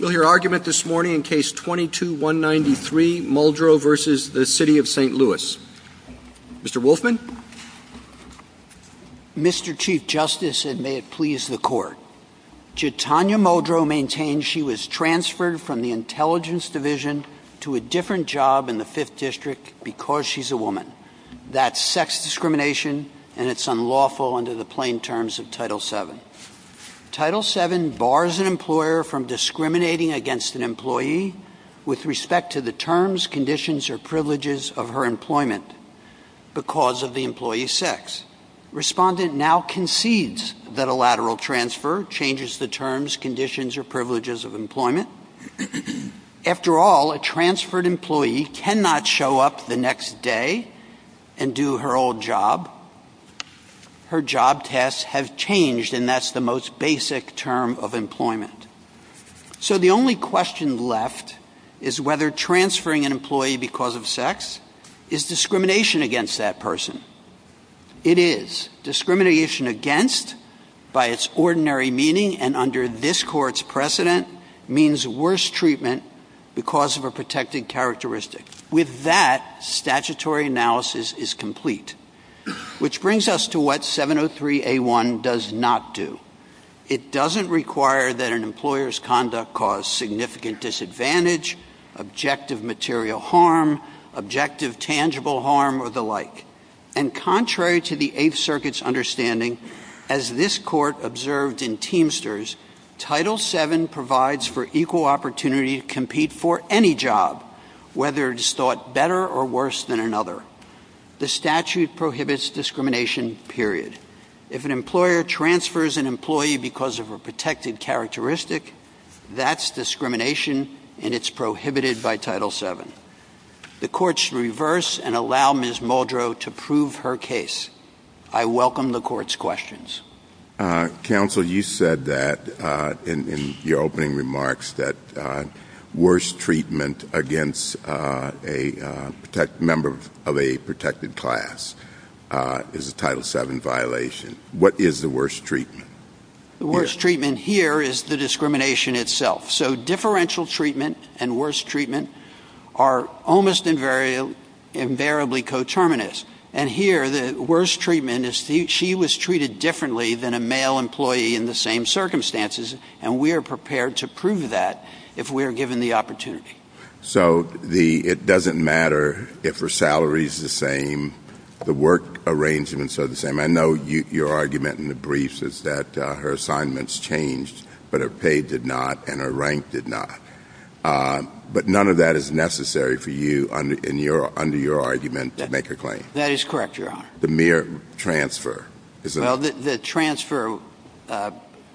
We'll hear argument this morning in Case 22-193, Muldrow v. St. Louis. Mr. Wolfman? Mr. Chief Justice, and may it please the Court, Jitanya Muldrow maintains she was transferred from the Intelligence Division to a different job in the Fifth District because she's a woman. That's sex discrimination, and it's unlawful under the plain terms of Title VII. Title VII bars an employer from discriminating against an employee with respect to the terms, conditions, or privileges of her employment because of the employee's sex. Respondent now concedes that a lateral transfer changes the terms, conditions, or privileges of employment. After all, a transferred employee cannot show up the next day and do her old job. Her job tests have changed, and that's the most basic term of employment. So the only question left is whether transferring an employee because of sex is discrimination against that person. It is. Discrimination against, by its ordinary meaning and under this Court's precedent, means worse treatment because of a protected characteristic. With that, statutory analysis is complete, which brings us to what 703A1 does not do. It doesn't require that an employer's conduct cause significant disadvantage, objective material harm, objective tangible harm, or the like. And contrary to the Eighth Circuit's understanding, as this Court observed in Teamsters, Title VII provides for equal opportunity to compete for any job, whether it is thought better or worse than another. The statute prohibits discrimination, period. If an employer transfers an employee because of a protected characteristic, that's discrimination, and it's prohibited by Title VII. The Court should reverse and allow Ms. Muldrow to prove her case. I welcome the Court's questions. Counsel, you said that in your opening remarks that worse treatment against a member of a protected class is a Title VII violation. What is the worst treatment? The worst treatment here is the discrimination itself. So differential treatment and worse treatment are almost invariably coterminous. And here, the worst treatment is she was treated differently than a male employee in the same circumstances, and we are prepared to prove that if we are given the opportunity. So it doesn't matter if her salary is the same, the work arrangements are the same. I know your argument in the briefs is that her assignments changed, but her pay did not and her rank did not. But none of that is necessary for you under your argument to make a claim. That is correct, Your Honor. The mere transfer is enough. Well, the transfer,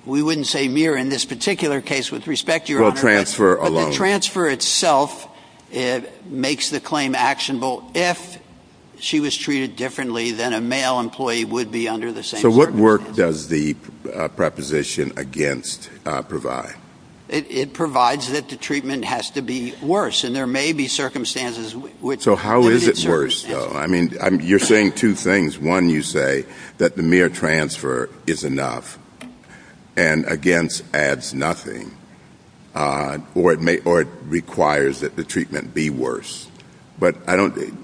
we wouldn't say mere in this particular case with respect to Your Honor. Well, transfer alone. The transfer itself makes the claim actionable. If she was treated differently than a male employee would be under the same circumstances. So what work does the preposition against provide? It provides that the treatment has to be worse, and there may be circumstances in which it is worse. So how is it worse, though? I mean, you're saying two things. One, you say that the mere transfer is enough, and against adds nothing, or it requires that the treatment be worse. But I don't think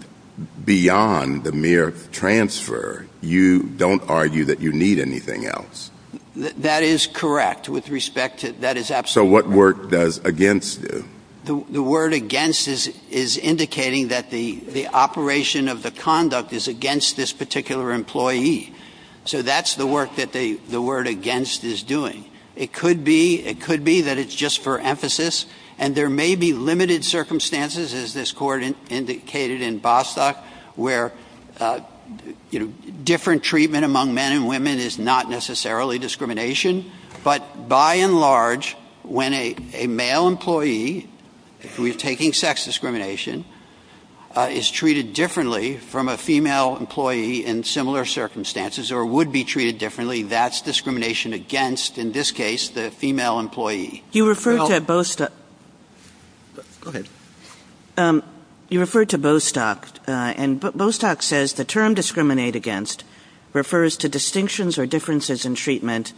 beyond the mere transfer, you don't argue that you need anything else. That is correct with respect to that. So what work does against do? The word against is indicating that the operation of the conduct is against this particular employee. So that's the work that the word against is doing. It could be that it's just for emphasis, and there may be limited circumstances, as this Court indicated in Bostock, where different treatment among men and women is not necessarily discrimination. But by and large, when a male employee, if we're taking sex discrimination, is treated differently from a female employee in similar circumstances, or would be treated differently, that's discrimination against, in this case, the female employee. You referred to Bostock. And Bostock says the term discriminate against refers to distinctions or differences in treatment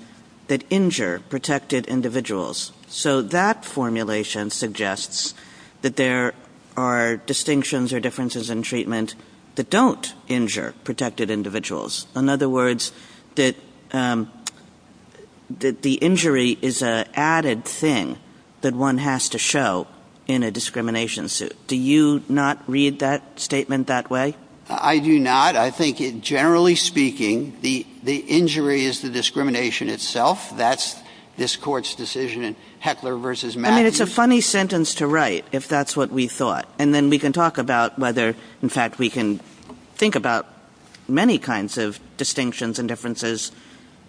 that injure protected individuals. So that formulation suggests that there are distinctions or differences in treatment that don't injure protected individuals. In other words, that the injury is an added thing that one has to show in a discrimination suit. Do you not read that statement that way? I do not. I think, generally speaking, the injury is the discrimination itself. That's this Court's decision in Heckler v. Matthews. I mean, it's a funny sentence to write, if that's what we thought. And then we can talk about whether, in fact, we can think about many kinds of distinctions and differences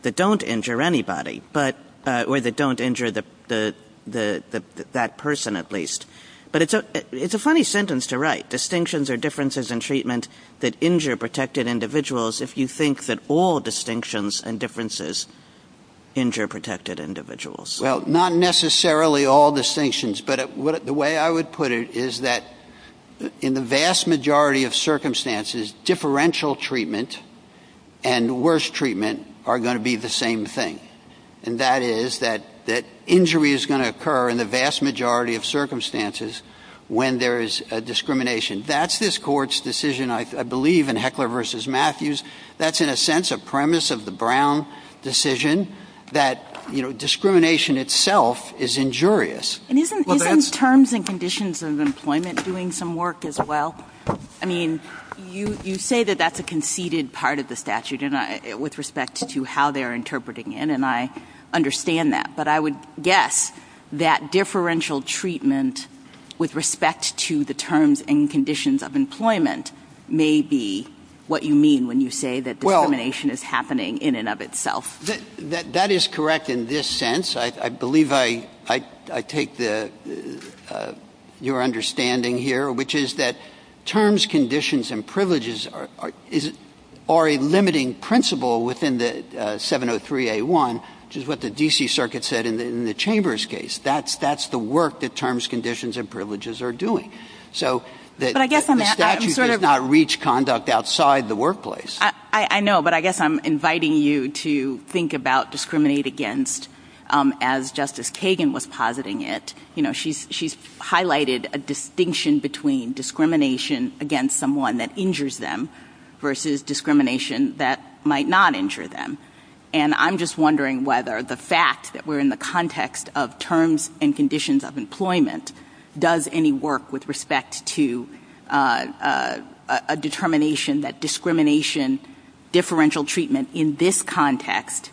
that don't injure anybody, or that don't injure that person, at least. But it's a funny sentence to write, distinctions or differences in treatment that injure protected individuals, if you think that all distinctions and differences injure protected individuals. Well, not necessarily all distinctions. But the way I would put it is that in the vast majority of circumstances, differential treatment and worse treatment are going to be the same thing. And that is that injury is going to occur in the vast majority of circumstances when there is discrimination. That's this Court's decision, I believe, in Heckler v. Matthews. That's, in a sense, a premise of the Brown decision that discrimination itself is injurious. And isn't terms and conditions of employment doing some work as well? I mean, you say that that's a conceded part of the statute with respect to how they're interpreting it. And I understand that. But I would guess that differential treatment with respect to the terms and conditions of employment may be what you mean when you say that discrimination is happening in and of itself. That is correct in this sense. I believe I take your understanding here, which is that terms, conditions, and privileges are a limiting principle within the 703A1, which is what the D.C. Circuit said in the Chambers case. That's the work that terms, conditions, and privileges are doing. So the statute does not reach conduct outside the workplace. I know. But I guess I'm inviting you to think about discriminate against as Justice Kagan was positing it. You know, she's highlighted a distinction between discrimination against someone that injures them versus discrimination that might not injure them. And I'm just wondering whether the fact that we're in the context of terms and conditions of employment does any work with respect to a determination that discrimination, differential treatment in this context,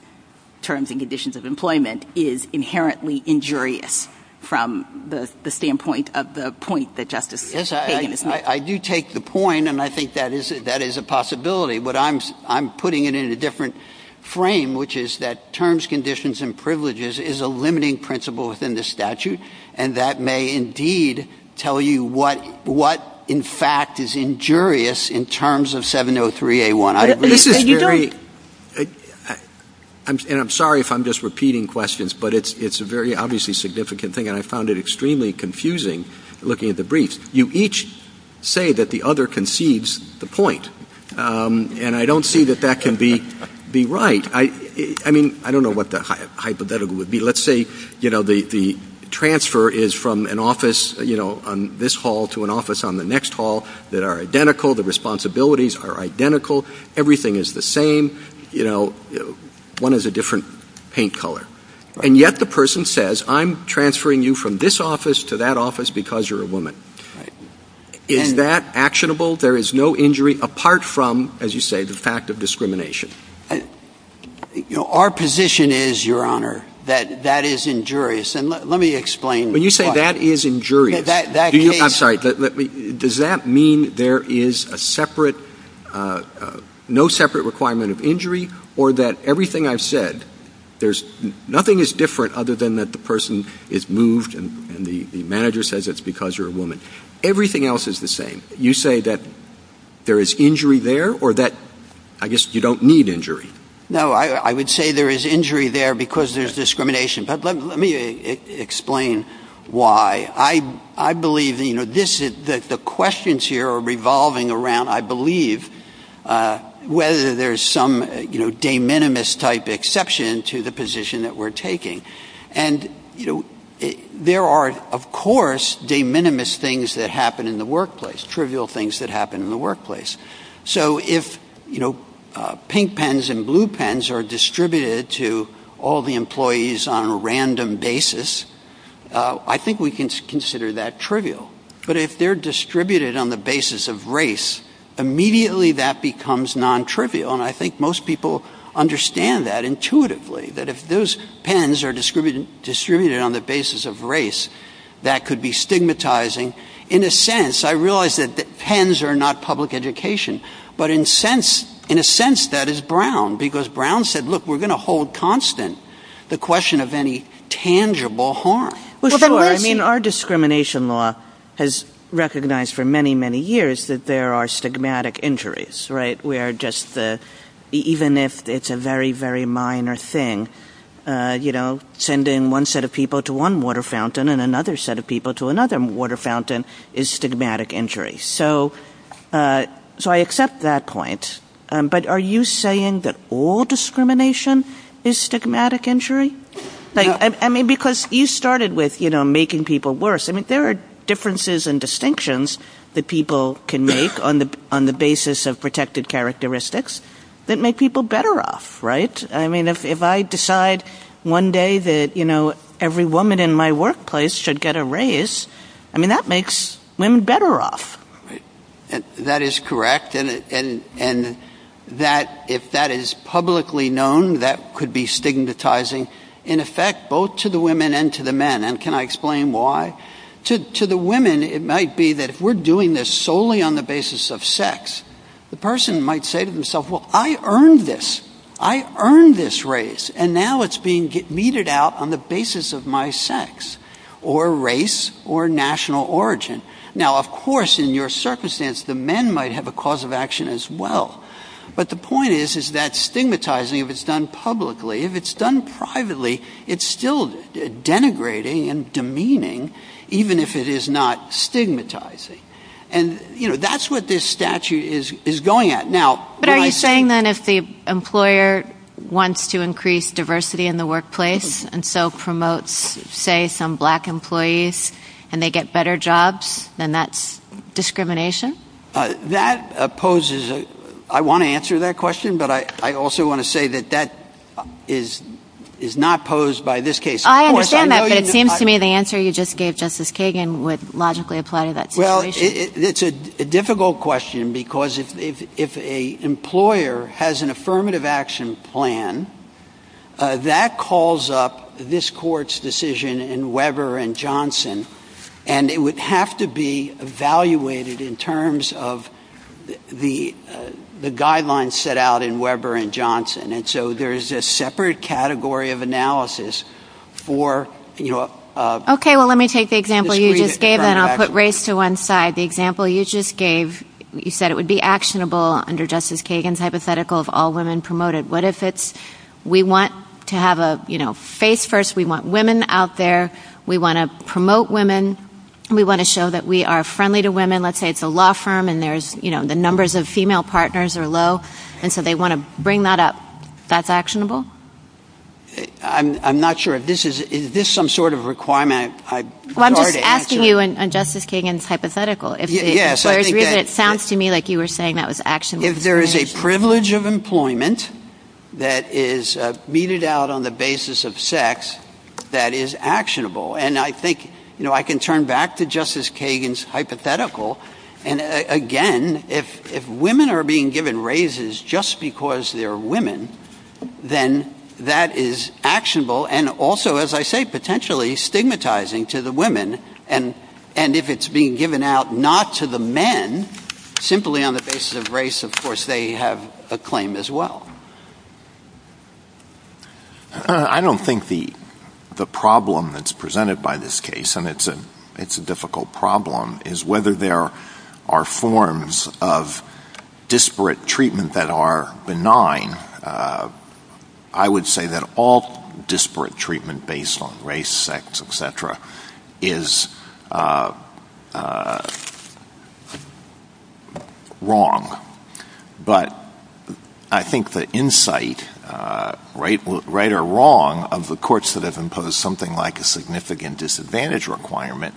terms and conditions of employment, is inherently injurious from the standpoint of the point that Justice Kagan is making. Yes, I do take the point, and I think that is a possibility. But I'm putting it in a different frame, which is that terms, conditions, and privileges is a limiting principle within the statute, and that may indeed tell you what, in fact, is injurious in terms of 703A1. And I'm sorry if I'm just repeating questions, but it's a very obviously significant thing, and I found it extremely confusing looking at the briefs. You each say that the other concedes the point, and I don't see that that can be right. I mean, I don't know what the hypothetical would be. Let's say the transfer is from an office on this hall to an office on the next hall. They are identical. The responsibilities are identical. Everything is the same. One is a different paint color. And yet the person says, I'm transferring you from this office to that office because you're a woman. Is that actionable? There is no injury apart from, as you say, the fact of discrimination. Our position is, Your Honor, that that is injurious. And let me explain. When you say that is injurious, does that mean there is no separate requirement of injury or that everything I've said, nothing is different other than that the person is moved and the manager says it's because you're a woman. Everything else is the same. You say that there is injury there or that, I guess, you don't need injury. No, I would say there is injury there because there's discrimination. But let me explain why. I believe that the questions here are revolving around, I believe, whether there's some de minimis type exception to the position that we're taking. And there are, of course, de minimis things that happen in the workplace, trivial things that happen in the workplace. So if pink pens and blue pens are distributed to all the employees on a random basis, I think we can consider that trivial. But if they're distributed on the basis of race, immediately that becomes non-trivial. And I think most people understand that intuitively, that if those pens are distributed on the basis of race, that could be stigmatizing. In a sense, I realize that pens are not public education. But in a sense, that is Brown because Brown said, look, we're going to hold constant the question of any tangible harm. Our discrimination law has recognized for many, many years that there are stigmatic injuries. Even if it's a very, very minor thing, sending one set of people to one water fountain and another set of people to another water fountain is stigmatic injury. So I accept that point. But are you saying that all discrimination is stigmatic injury? Because you started with making people worse. I mean, there are differences and distinctions that people can make on the basis of protected characteristics that make people better off, right? I mean, if I decide one day that every woman in my workplace should get a raise, I mean, that makes women better off. That is correct. And if that is publicly known, that could be stigmatizing, in effect, both to the women and to the men. And can I explain why? To the women, it might be that if we're doing this solely on the basis of sex, the person might say to themselves, well, I earned this. I earned this raise. And now it's being meted out on the basis of my sex or race or national origin. Now, of course, in your circumstance, the men might have a cause of action as well. But the point is, is that stigmatizing, if it's done publicly, if it's done privately, it's still denigrating and demeaning, even if it is not stigmatizing. And, you know, that's what this statute is going at. But are you saying then if the employer wants to increase diversity in the workplace and so promotes, say, some black employees and they get better jobs, then that's discrimination? That opposes a – I want to answer that question, but I also want to say that that is not posed by this case. I understand that, but it seems to me the answer you just gave, Justice Kagan, would logically apply to that situation. Well, it's a difficult question because if an employer has an affirmative action plan, that calls up this court's decision in Weber and Johnson, and it would have to be evaluated in terms of the guidelines set out in Weber and Johnson. And so there is a separate category of analysis for – Okay, well, let me take the example you just gave and I'll put race to one side. The example you just gave, you said it would be actionable under Justice Kagan's hypothetical of all women promoted. What if it's we want to have a, you know, face first, we want women out there, we want to promote women, we want to show that we are friendly to women. Let's say it's a law firm and there's, you know, the numbers of female partners are low and so they want to bring that up. That's actionable? I'm not sure if this is – is this some sort of requirement? Well, I'm just asking you on Justice Kagan's hypothetical. Yes, I think that – It sounds to me like you were saying that was actionable. If there is a privilege of employment that is meted out on the basis of sex, that is actionable. And I think, you know, I can turn back to Justice Kagan's hypothetical. And, again, if women are being given raises just because they're women, then that is actionable and also, as I say, potentially stigmatizing to the women. And if it's being given out not to the men, simply on the basis of race, of course, they have a claim as well. I don't think the problem that's presented by this case, and it's a difficult problem, is whether there are forms of disparate treatment that are benign. I would say that all disparate treatment based on race, sex, et cetera, is wrong. But I think the insight, right or wrong, of the courts that have imposed something like a significant disadvantage requirement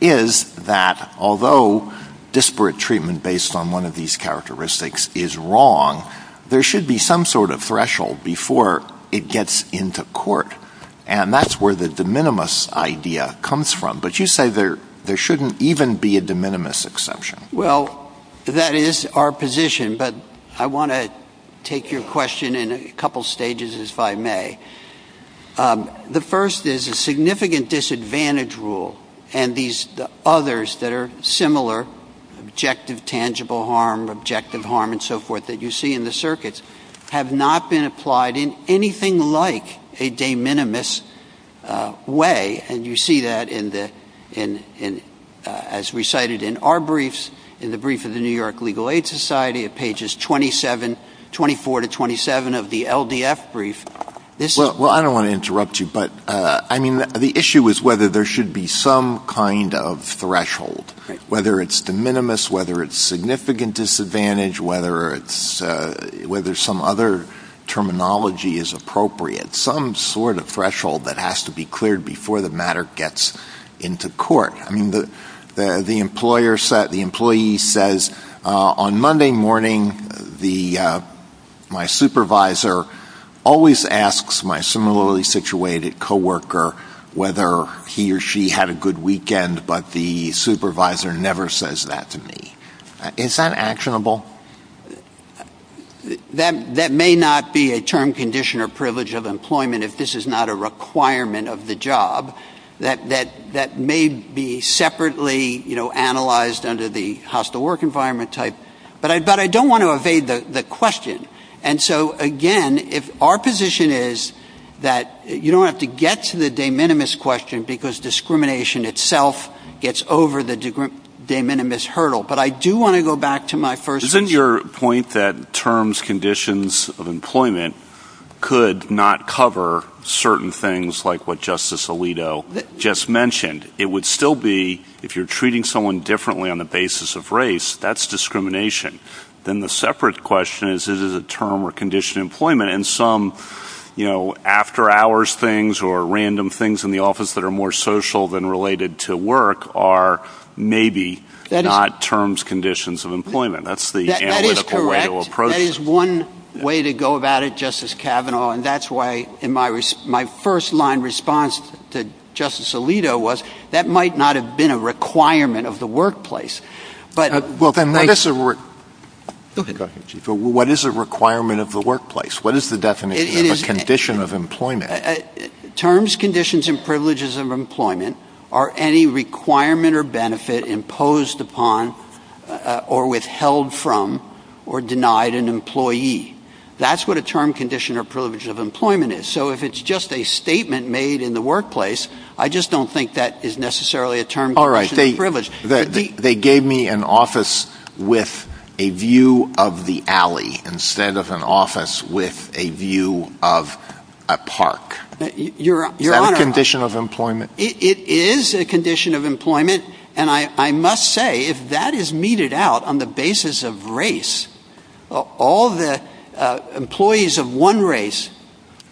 is that although disparate treatment based on one of these characteristics is wrong, there should be some sort of threshold before it gets into court. And that's where the de minimis idea comes from. But you say there shouldn't even be a de minimis exception. Well, that is our position. But I want to take your question in a couple stages, if I may. The first is a significant disadvantage rule and these others that are similar, objective, tangible harm, objective harm, and so forth, that you see in the circuits, have not been applied in anything like a de minimis way. And you see that as recited in our briefs, in the brief of the New York Legal Aid Society, at pages 24 to 27 of the LDF brief. Well, I don't want to interrupt you, but the issue is whether there should be some kind of threshold, whether it's de minimis, whether it's significant disadvantage, whether some other terminology is appropriate, some sort of threshold that has to be cleared before the matter gets into court. I mean, the employee says, on Monday morning, my supervisor always asks my similarly situated co-worker whether he or she had a good weekend, but the supervisor never says that to me. Is that actionable? That may not be a term, condition, or privilege of employment if this is not a requirement of the job. That may be separately analyzed under the hostile work environment type. But I don't want to evade the question. And so, again, our position is that you don't have to get to the de minimis question because discrimination itself gets over the de minimis hurdle. But I do want to go back to my first point. Isn't your point that terms, conditions of employment could not cover certain things like what Justice Alito just mentioned? It would still be, if you're treating someone differently on the basis of race, that's discrimination. Then the separate question is, is it a term or condition of employment? And some, you know, after-hours things or random things in the office that are more social than related to work are maybe not terms, conditions of employment. That's the analytical way to approach it. That is correct. That is one way to go about it, Justice Kavanaugh, and that's why my first-line response to Justice Alito was that might not have been a requirement of the workplace. But what is a requirement of the workplace? What is the definition of a condition of employment? Terms, conditions, and privileges of employment are any requirement or benefit imposed upon or withheld from or denied an employee. That's what a term, condition, or privilege of employment is. So if it's just a statement made in the workplace, I just don't think that is necessarily a term, condition, or privilege. All right. They gave me an office with a view of the alley instead of an office with a view of a park. Your Honor. That's a condition of employment. It is a condition of employment, and I must say, if that is meted out on the basis of race, all the employees of one race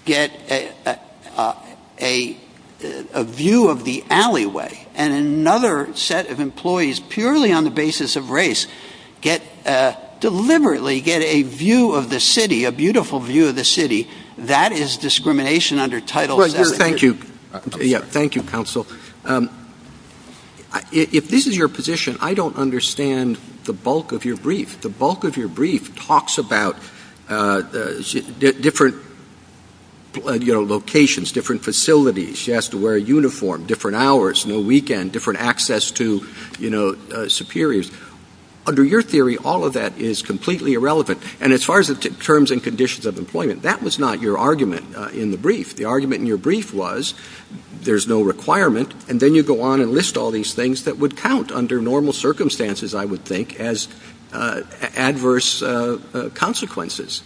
get a view of the alleyway, and another set of employees purely on the basis of race deliberately get a view of the city, a beautiful view of the city, that is discrimination under Title VII. Thank you. Thank you, counsel. If this is your position, I don't understand the bulk of your brief. The bulk of your brief talks about different locations, different facilities. She has to wear a uniform, different hours, no weekend, different access to superiors. Under your theory, all of that is completely irrelevant. And as far as terms and conditions of employment, that was not your argument in the brief. The argument in your brief was there's no requirement, and then you go on and list all these things that would count under normal circumstances, I would think, as adverse consequences.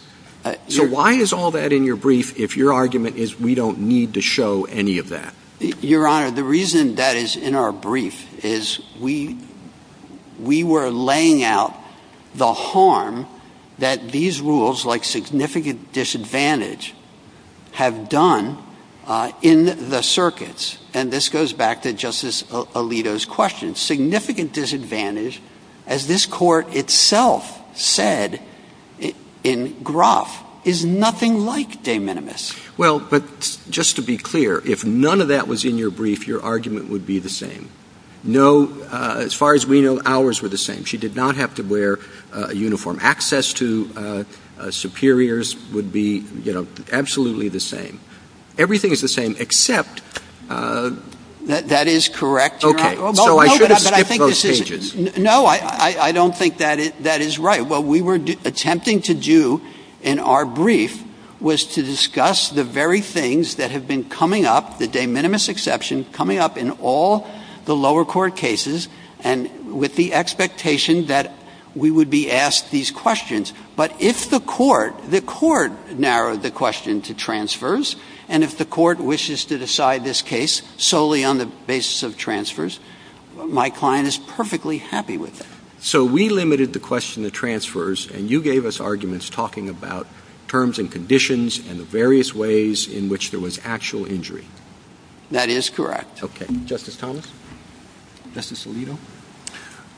So why is all that in your brief if your argument is we don't need to show any of that? Your Honor, the reason that is in our brief is we were laying out the harm that these rules, like significant disadvantage, have done in the circuits. And this goes back to Justice Alito's question. Significant disadvantage, as this Court itself said in Groff, is nothing like de minimis. Well, but just to be clear, if none of that was in your brief, your argument would be the same. As far as we know, ours were the same. She did not have to wear a uniform. Access to superiors would be absolutely the same. Everything is the same, except... That is correct, Your Honor. Okay, so I should have skipped those changes. No, I don't think that is right. What we were attempting to do in our brief was to discuss the very things that have been coming up, the de minimis exception coming up in all the lower court cases, and with the expectation that we would be asked these questions. But if the Court narrowed the question to transfers, and if the Court wishes to decide this case solely on the basis of transfers, my client is perfectly happy with it. So we limited the question to transfers, and you gave us arguments talking about terms and conditions and the various ways in which there was actual injury. That is correct. Okay. Justice Thomas? Justice Alito?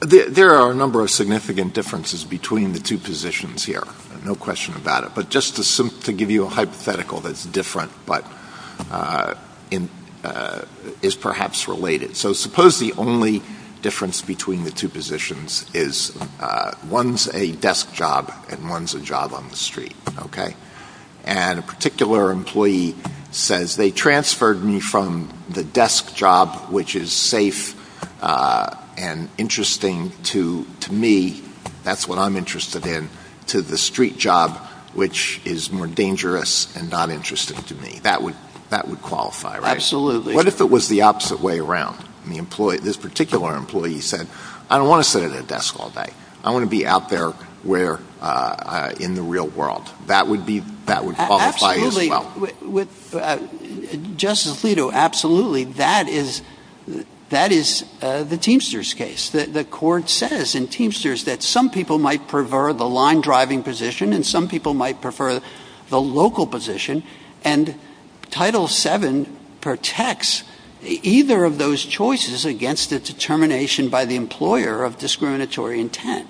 There are a number of significant differences between the two positions here. No question about it. But just to give you a hypothetical that is different but is perhaps related. So suppose the only difference between the two positions is one is a desk job and one is a job on the street. Okay? And interesting to me, that's what I'm interested in, to the street job, which is more dangerous and not interesting to me. That would qualify, right? Absolutely. What if it was the opposite way around? This particular employee said, I don't want to sit at a desk all day. I want to be out there in the real world. That would qualify as well. Justice Alito, absolutely. That is the Teamsters case. The court says in Teamsters that some people might prefer the line-driving position and some people might prefer the local position, and Title VII protects either of those choices against a determination by the employer of discriminatory intent.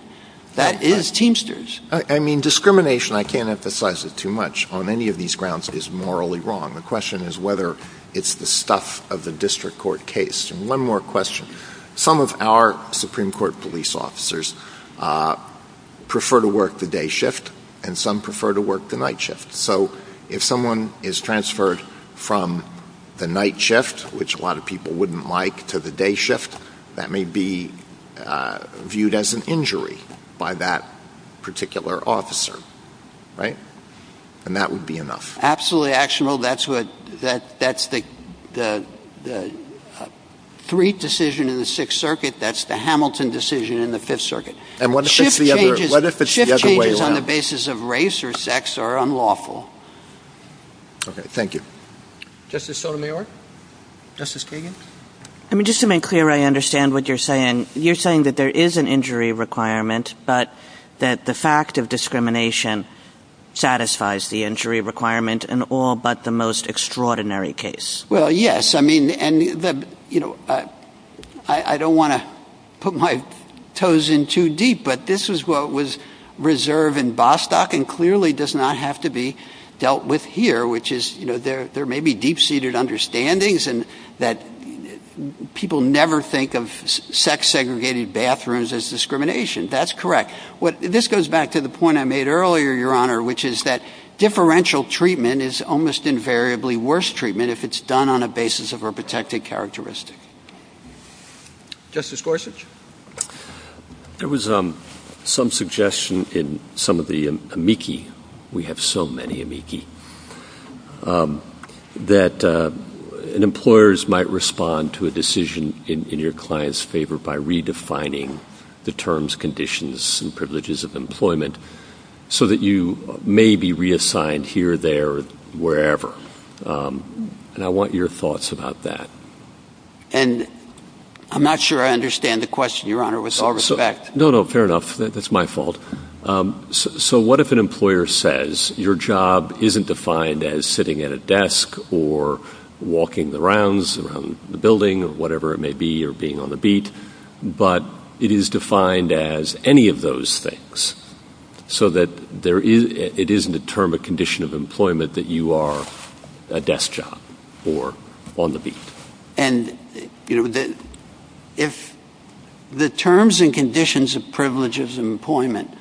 That is Teamsters. I mean, discrimination, I can't emphasize it too much, on any of these grounds is morally wrong. The question is whether it's the stuff of the district court case. And one more question. Some of our Supreme Court police officers prefer to work the day shift and some prefer to work the night shift. So if someone is transferred from the night shift, which a lot of people wouldn't like, to the day shift, that may be viewed as an injury by that particular officer. Right? And that would be enough. Absolutely actionable. That's the Threate decision in the Sixth Circuit. That's the Hamilton decision in the Fifth Circuit. And what if it's the other way around? Shift changes on the basis of race or sex are unlawful. Okay, thank you. Justice Sotomayor? Justice Kagan? I mean, just to make clear, I understand what you're saying. You're saying that there is an injury requirement, but that the fact of discrimination satisfies the injury requirement in all but the most extraordinary case. Well, yes. I mean, I don't want to put my toes in too deep, but this is what was reserved in Bostock and clearly does not have to be dealt with here, which is there may be deep-seated understandings that people never think of sex-segregated bathrooms as discrimination. That's correct. This goes back to the point I made earlier, Your Honor, which is that differential treatment is almost invariably worse treatment if it's done on a basis of a protected characteristic. Justice Gorsuch? There was some suggestion in some of the amici, we have so many amici, that employers might respond to a decision in your client's favor by redefining the terms, conditions, and privileges of employment so that you may be reassigned here, there, wherever. And I want your thoughts about that. And I'm not sure I understand the question, Your Honor, with all respect. No, no, fair enough. That's my fault. So what if an employer says your job isn't defined as sitting at a desk or walking the rounds around the building or whatever it may be or being on the beat, but it is defined as any of those things, so that it isn't a term, a condition of employment that you are a desk job or on the beat? And if the terms and conditions of privileges of employment...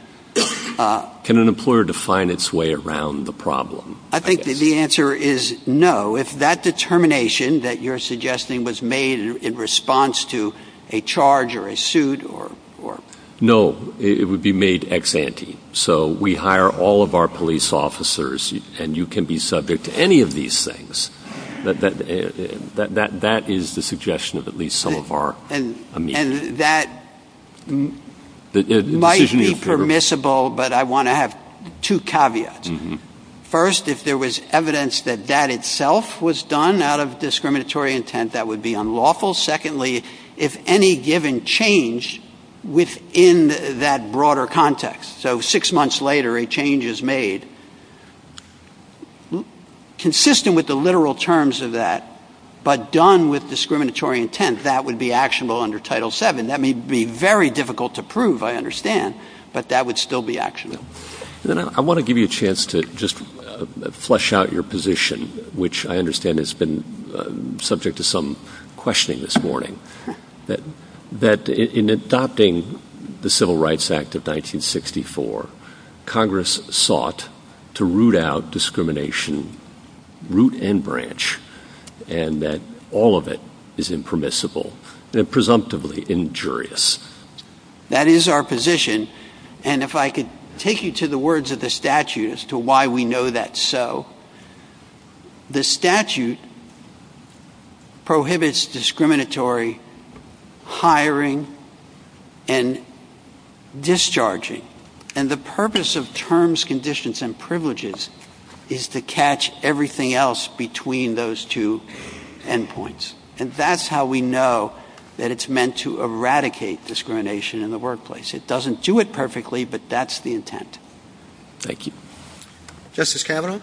Can an employer define its way around the problem? I think the answer is no. If that determination that you're suggesting was made in response to a charge or a suit or... No, it would be made ex ante. So we hire all of our police officers, and you can be subject to any of these things. That is the suggestion of at least some of our amici. And that might be permissible, but I want to have two caveats. First, if there was evidence that that itself was done out of discriminatory intent, that would be unlawful. Secondly, if any given change within that broader context, so six months later a change is made, consistent with the literal terms of that, but done with discriminatory intent, that would be actionable under Title VII. That may be very difficult to prove, I understand, but that would still be actionable. I want to give you a chance to just flesh out your position, which I understand has been subject to some questioning this morning. That in adopting the Civil Rights Act of 1964, Congress sought to root out discrimination, root and branch, and that all of it is impermissible and presumptively injurious. That is our position, and if I could take you to the words of the statute as to why we know that so. The statute prohibits discriminatory hiring and discharging, and the purpose of terms, conditions, and privileges is to catch everything else between those two endpoints. And that's how we know that it's meant to eradicate discrimination in the workplace. It doesn't do it perfectly, but that's the intent. Thank you. Justice Kavanaugh?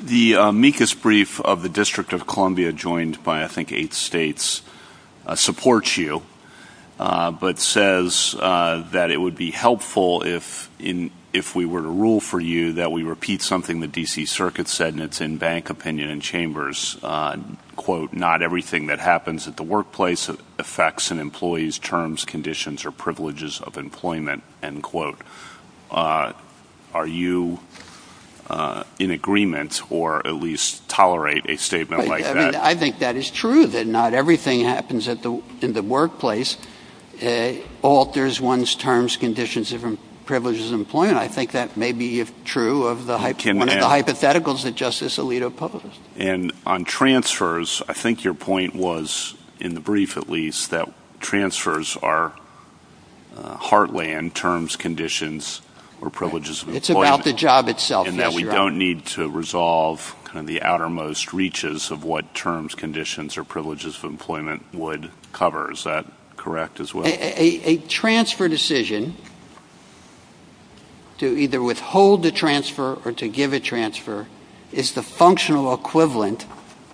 The amicus brief of the District of Columbia, joined by I think eight states, supports you, but says that it would be helpful if we were to rule for you that we repeat something the D.C. Circuit said, and it's in bank opinion and chambers. Quote, not everything that happens at the workplace affects an employee's terms, conditions, or privileges of employment, end quote. Are you in agreement or at least tolerate a statement like that? I think that is true, that not everything that happens in the workplace alters one's terms, conditions, and privileges of employment. I think that may be true of the hypotheticals that Justice Alito published. And on transfers, I think your point was, in the brief at least, that transfers are heartland terms, conditions, or privileges of employment. It's about the job itself. And that we don't need to resolve the outermost reaches of what terms, conditions, or privileges of employment would cover. Is that correct as well? A transfer decision to either withhold the transfer or to give a transfer is the functional equivalent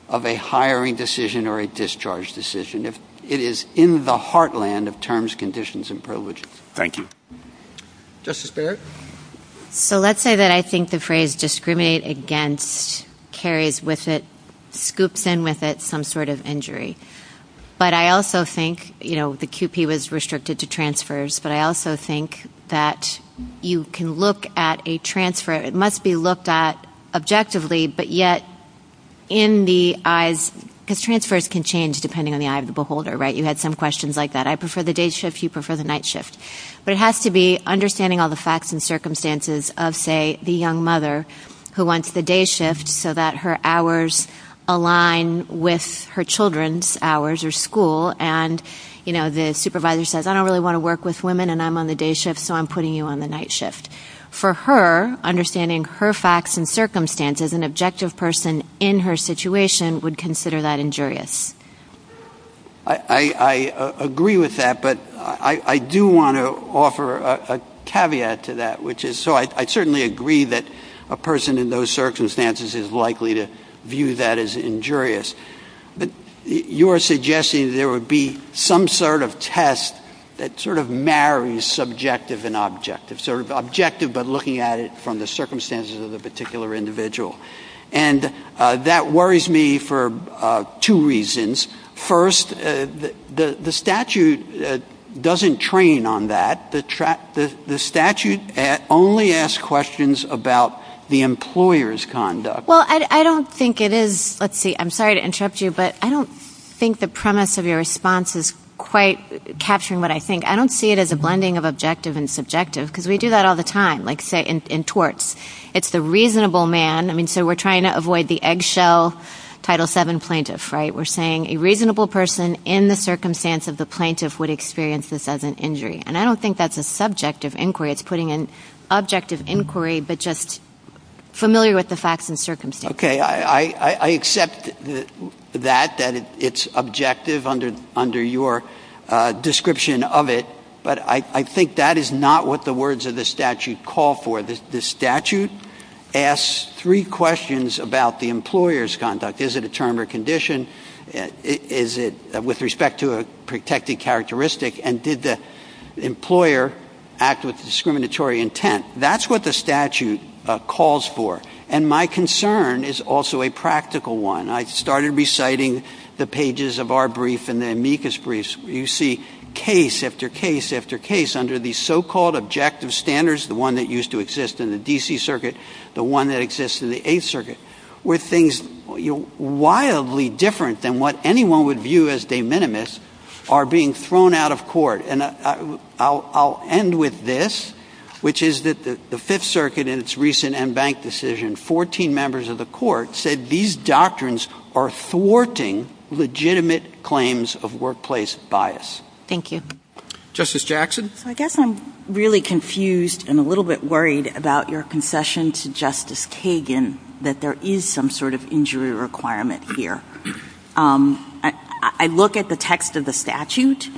of a hiring decision or a discharge decision. It is in the heartland of terms, conditions, and privileges. Thank you. Justice Barrett? So let's say that I think the phrase discriminate against carries with it, scoops in with it, some sort of injury. But I also think, you know, the QP was restricted to transfers, but I also think that you can look at a transfer, it must be looked at objectively, but yet in the eyes, because transfers can change depending on the eye of the beholder, right? You had some questions like that. I prefer the day shift, you prefer the night shift. But it has to be understanding all the facts and circumstances of, say, the young mother who wants the day shift so that her hours align with her children's hours or school. And, you know, the supervisor says, I don't really want to work with women and I'm on the day shift, so I'm putting you on the night shift. For her, understanding her facts and circumstances, an objective person in her situation would consider that injurious. I agree with that, but I do want to offer a caveat to that, which is so I certainly agree that a person in those circumstances is likely to view that as injurious. But you are suggesting there would be some sort of test that sort of marries subjective and objective, sort of objective but looking at it from the circumstances of the particular individual. And that worries me for two reasons. First, the statute doesn't train on that. The statute only asks questions about the employer's conduct. Well, I don't think it is. Let's see, I'm sorry to interrupt you, but I don't think the premise of your response is quite capturing what I think. I don't see it as a blending of objective and subjective because we do that all the time, like, say, in torts. It's the reasonable man. I mean, so we're trying to avoid the eggshell Title VII plaintiff, right? We're saying a reasonable person in the circumstance of the plaintiff would experience this as an injury. And I don't think that's a subjective inquiry. It's putting an objective inquiry but just familiar with the facts and circumstances. Okay, I accept that, that it's objective under your description of it, but I think that is not what the words of the statute call for. The statute asks three questions about the employer's conduct. Is it a term or condition? Is it with respect to a protected characteristic? And did the employer act with discriminatory intent? That's what the statute calls for. And my concern is also a practical one. I started reciting the pages of our brief and the amicus briefs. You see case after case after case under the so-called objective standards, the one that used to exist in the D.C. Circuit, the one that exists in the Eighth Circuit, where things wildly different than what anyone would view as de minimis are being thrown out of court. I'll end with this, which is that the Fifth Circuit in its recent en banc decision, 14 members of the court, said these doctrines are thwarting legitimate claims of workplace bias. Thank you. Justice Jackson? I guess I'm really confused and a little bit worried about your concession to Justice Kagan that there is some sort of injury requirement here. I look at the text of the statute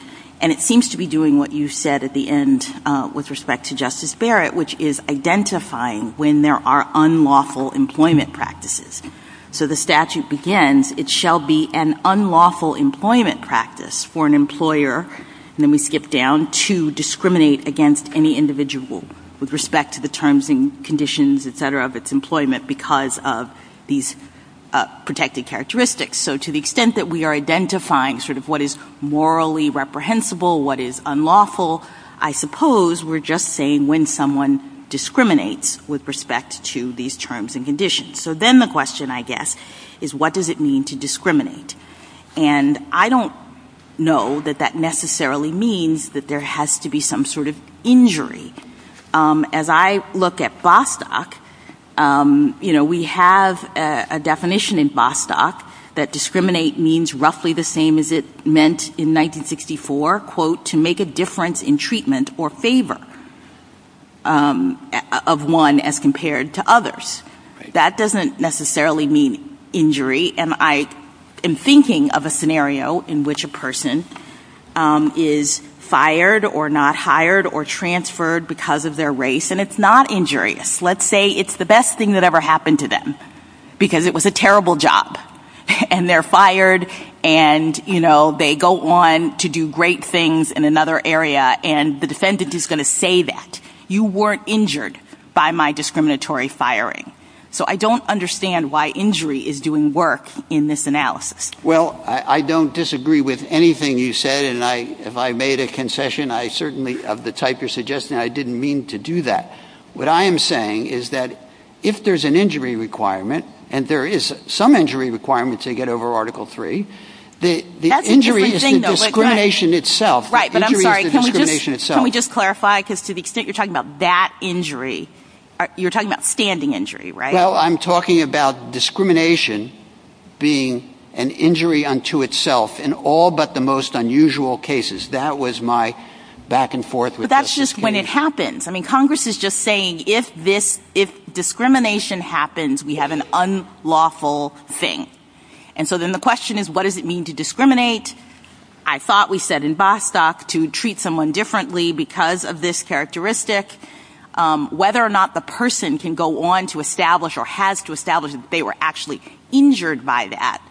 and it seems to be doing what you said at the end with respect to Justice Barrett, which is identifying when there are unlawful employment practices. So the statute begins, it shall be an unlawful employment practice for an employer, and then we skip down, to discriminate against any individual with respect to the terms and conditions, et cetera, of its employment because of these protected characteristics. So to the extent that we are identifying sort of what is morally reprehensible, what is unlawful, I suppose we're just saying when someone discriminates with respect to these terms and conditions. So then the question, I guess, is what does it mean to discriminate? And I don't know that that necessarily means that there has to be some sort of injury. As I look at Bostock, we have a definition in Bostock that discriminate means roughly the same as it meant in 1964, quote, to make a difference in treatment or favor of one as compared to others. That doesn't necessarily mean injury. I am thinking of a scenario in which a person is fired or not hired or transferred because of their race, and it's not injurious. Let's say it's the best thing that ever happened to them because it was a terrible job, and they're fired and, you know, they go on to do great things in another area, and the defendant is going to say that. You weren't injured by my discriminatory firing. So I don't understand why injury is doing work in this analysis. Well, I don't disagree with anything you said, and if I made a concession, I certainly, of the type you're suggesting, I didn't mean to do that. What I am saying is that if there's an injury requirement, and there is some injury requirement to get over Article III, the injury is the discrimination itself. Right, but I'm sorry, can we just clarify, because to the extent you're talking about that injury, you're talking about standing injury, right? Well, I'm talking about discrimination being an injury unto itself in all but the most unusual cases. That was my back-and-forth. But that's just when it happens. I mean, Congress is just saying if discrimination happens, we have an unlawful thing. And so then the question is, what does it mean to discriminate? I thought we said in Bostock to treat someone differently because of this characteristic. Whether or not the person can go on to establish or has to establish that they were actually injured by that,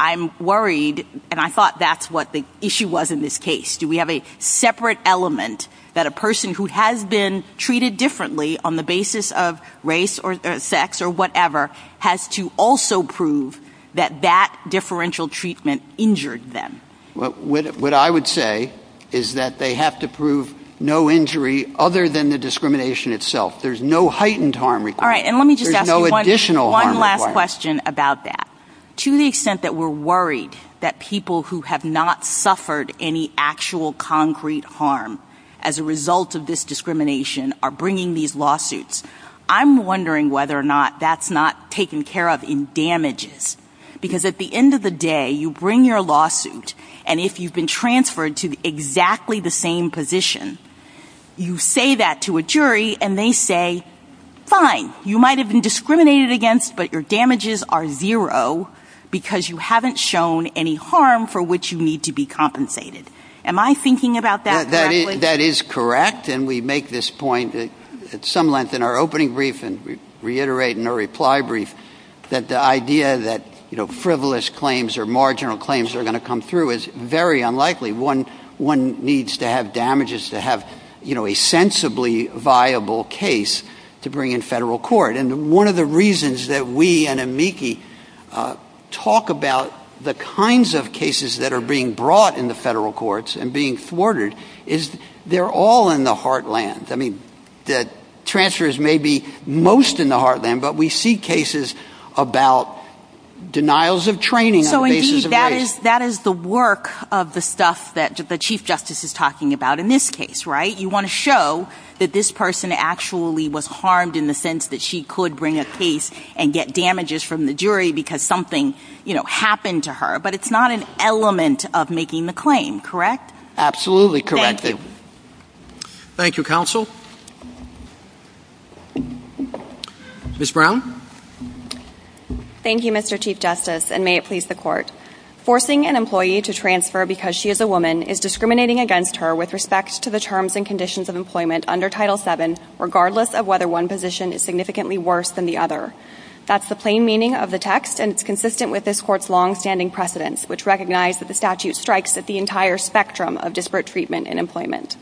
I'm worried, and I thought that's what the issue was in this case. Do we have a separate element that a person who has been treated differently on the basis of race or sex or whatever has to also prove that that differential treatment injured them? What I would say is that they have to prove no injury other than the discrimination itself. There's no heightened harm required. There's no additional harm required. All right, and let me just ask you one last question about that. To the extent that we're worried that people who have not suffered any actual concrete harm as a result of this discrimination are bringing these lawsuits, I'm wondering whether or not that's not taken care of in damages. Because at the end of the day, you bring your lawsuit, and if you've been transferred to exactly the same position, you say that to a jury, and they say, fine, you might have been discriminated against, but your damages are zero because you haven't shown any harm for which you need to be compensated. Am I thinking about that correctly? That is correct, and we make this point at some length in our opening brief and reiterate in our reply brief that the idea that frivolous claims or marginal claims are going to come through is very unlikely. One needs to have damages to have a sensibly viable case to bring in federal court. And one of the reasons that we and amici talk about the kinds of cases that are being brought in the federal courts and being thwarted is they're all in the heartland. I mean, transfers may be most in the heartland, but we see cases about denials of training on the basis of race. So, indeed, that is the work of the stuff that the Chief Justice is talking about in this case, right? You want to show that this person actually was harmed in the sense that she could bring a case and get damages from the jury because something happened to her, but it's not an element of making the claim, correct? Absolutely correct. Thank you, Counsel. Ms. Brown? Thank you, Mr. Chief Justice, and may it please the Court. Forcing an employee to transfer because she is a woman is discriminating against her with respect to the terms and conditions of employment under Title VII, regardless of whether one position is significantly worse than the other. That's the plain meaning of the text, and it's consistent with this Court's longstanding precedence, which recognized that the statute strikes at the entire spectrum of disparate treatment in employment.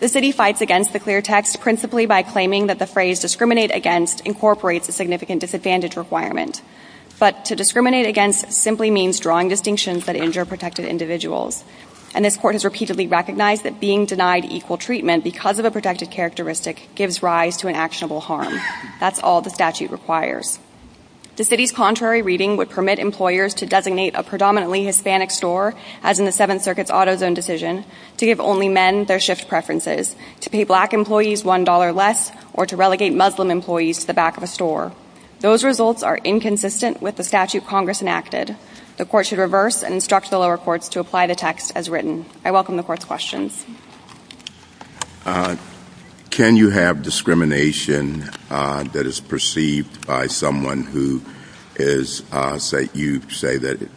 The City fights against the clear text principally by claiming that the phrase discriminate against incorporates a significant disadvantage requirement. But to discriminate against simply means drawing distinctions that injure protected individuals, and this Court has repeatedly recognized that being denied equal treatment because of a protected characteristic gives rise to an actionable harm. That's all the statute requires. The City's contrary reading would permit employers to designate a predominantly Hispanic store, as in the Seventh Circuit's Auto Zone decision, to give only men their shift preferences, to pay black employees $1 less, or to relegate Muslim employees to the back of a store. Those results are inconsistent with the statute Congress enacted. The Court should reverse and instruct fellow courts to apply the text as written. I welcome the Court's questions. Can you have discrimination that is perceived by someone who you say that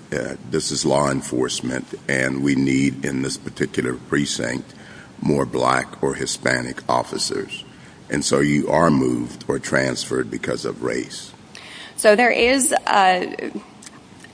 this is law enforcement and we need in this particular precinct more black or Hispanic officers, and so you are moved or transferred because of race?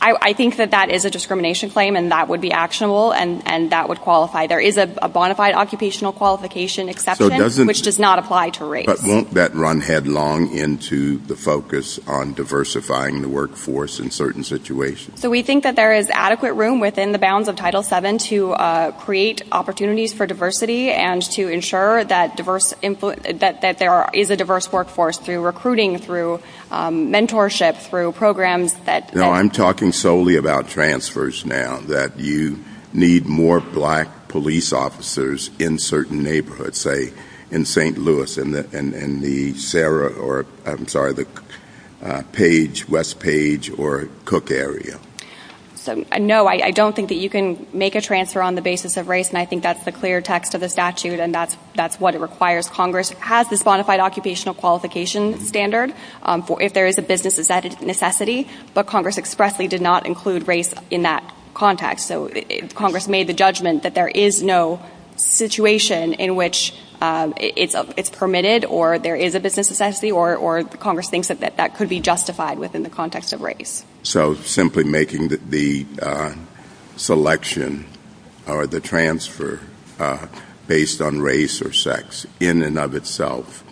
I think that that is a discrimination claim, and that would be actionable, and that would qualify. There is a bona fide occupational qualification exception, which does not apply to race. But won't that run headlong into the focus on diversifying the workforce in certain situations? So we think that there is adequate room within the bounds of Title VII to create opportunities for diversity and to ensure that there is a diverse workforce through recruiting, through mentorship, through programs. I'm talking solely about transfers now, that you need more black police officers in certain neighborhoods, say in St. Louis in the West Page or Cook area. No, I don't think that you can make a transfer on the basis of race, and I think that's the clear text of the statute, and that's what it requires. Congress has this bona fide occupational qualification standard. If there is a business necessity, but Congress expressly did not include race in that context. So if Congress made the judgment that there is no situation in which it's permitted or there is a business necessity or Congress thinks that that could be justified within the context of race. So simply making the selection or the transfer based on race or sex in and of itself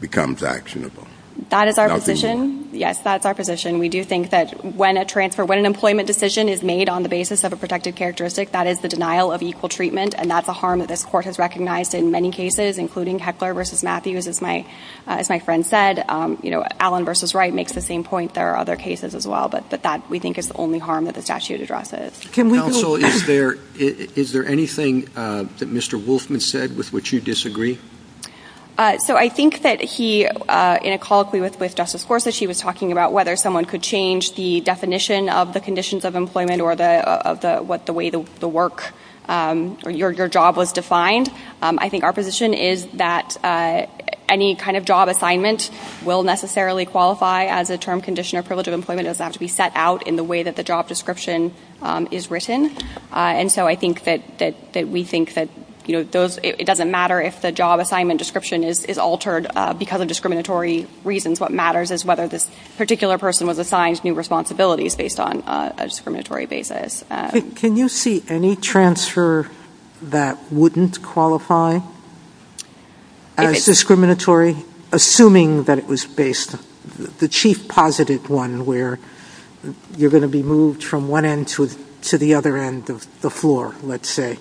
becomes actionable. That is our position. Yes, that's our position. We do think that when an employment decision is made on the basis of a protected characteristic, that is the denial of equal treatment, and that's a harm that this Court has recognized in many cases, including Heckler v. Matthews, as my friend said. Allen v. Wright makes the same point. There are other cases as well, but we think it's the only harm that the statute addresses. Counsel, is there anything that Mr. Wolfman said with which you disagree? So I think that he, in a call with Justice Forza, she was talking about whether someone could change the definition of the conditions of employment or what the way the work or your job was defined. I think our position is that any kind of job assignment will necessarily qualify as a term, condition, or privilege of employment. It does not have to be set out in the way that the job description is written. And so I think that we think that it doesn't matter if the job assignment description is altered because of discriminatory reasons. What matters is whether this particular person was assigned new responsibilities based on a discriminatory basis. Can you see any transfer that wouldn't qualify as discriminatory, assuming that it was based, the chief positive one where you're going to be moved from one end to the other end of the floor, let's say.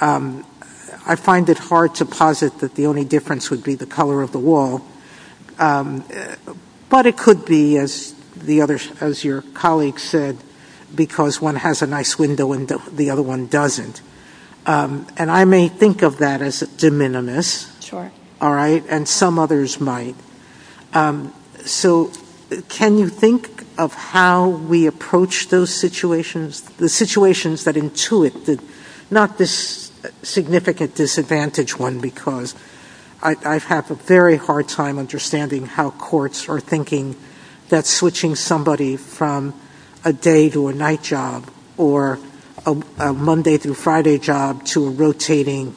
I find it hard to posit that the only difference would be the color of the wall. But it could be, as your colleague said, because one has a nice window and the other one doesn't. And I may think of that as de minimis. And some others might. So can you think of how we approach those situations, the situations that intuit, not this significant disadvantage one because I have a very hard time understanding how courts are thinking that switching somebody from a day to a night job or a Monday through Friday job to a rotating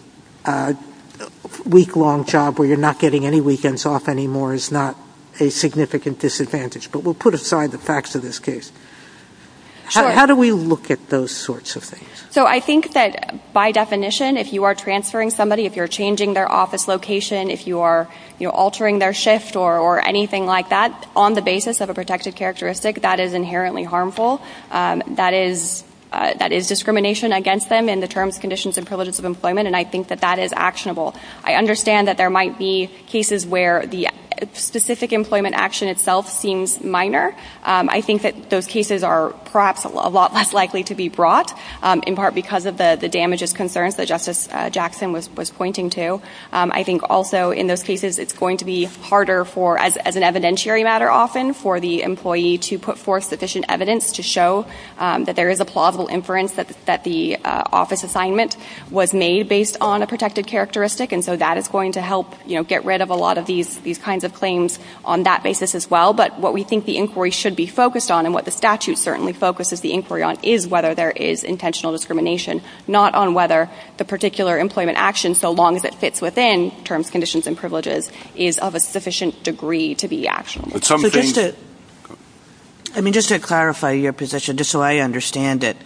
week-long job where you're not getting any weekends off anymore is not a significant disadvantage. But we'll put aside the facts of this case. How do we look at those sorts of things? So I think that by definition, if you are transferring somebody, if you're changing their office location, if you are altering their shift or anything like that, on the basis of a protected characteristic, that is inherently harmful. That is discrimination against them in the terms, conditions, and privileges of employment. And I think that that is actionable. I understand that there might be cases where the specific employment action itself seems minor. I think that those cases are perhaps a lot less likely to be brought, in part because of the damages concerns that Justice Jackson was pointing to. I think also in those cases it's going to be harder for, as an evidentiary matter often, for the employee to put forth sufficient evidence to show that there is a plausible inference that the office assignment was made based on a protected characteristic. And so that is going to help get rid of a lot of these kinds of claims on that basis as well. But what we think the inquiry should be focused on, and what the statute certainly focuses the inquiry on, is whether there is intentional discrimination, not on whether the particular employment action, so long as it fits within terms, conditions, and privileges, is of a sufficient degree to be actionable. But just to clarify your position, just so I understand it,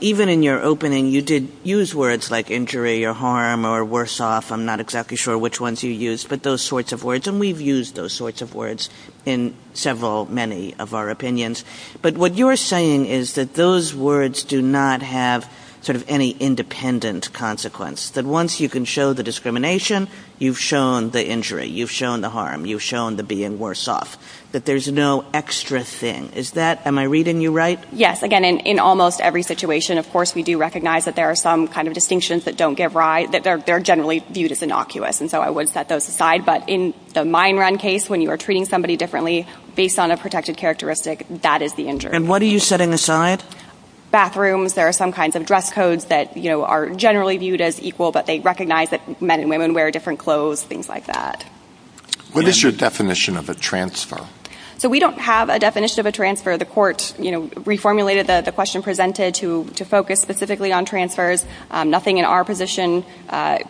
even in your opening you did use words like injury or harm or worse off. I'm not exactly sure which ones you used, but those sorts of words. And we've used those sorts of words in several, many of our opinions. But what you're saying is that those words do not have sort of any independent consequence, that once you can show the discrimination, you've shown the injury, you've shown the harm, you've shown the being worse off, that there's no extra thing. Is that, am I reading you right? Yes. Again, in almost every situation, of course, we do recognize that there are some kind of distinctions that don't give rise, that they're generally viewed as innocuous. And so I would set those aside. But in the mine run case, when you are treating somebody differently, based on a protected characteristic, that is the injury. And what are you setting aside? Bathrooms. There are some kinds of dress codes that are generally viewed as equal, but they recognize that men and women wear different clothes, things like that. What is your definition of a transfer? So we don't have a definition of a transfer. The court reformulated the question presented to focus specifically on transfers. Nothing in our position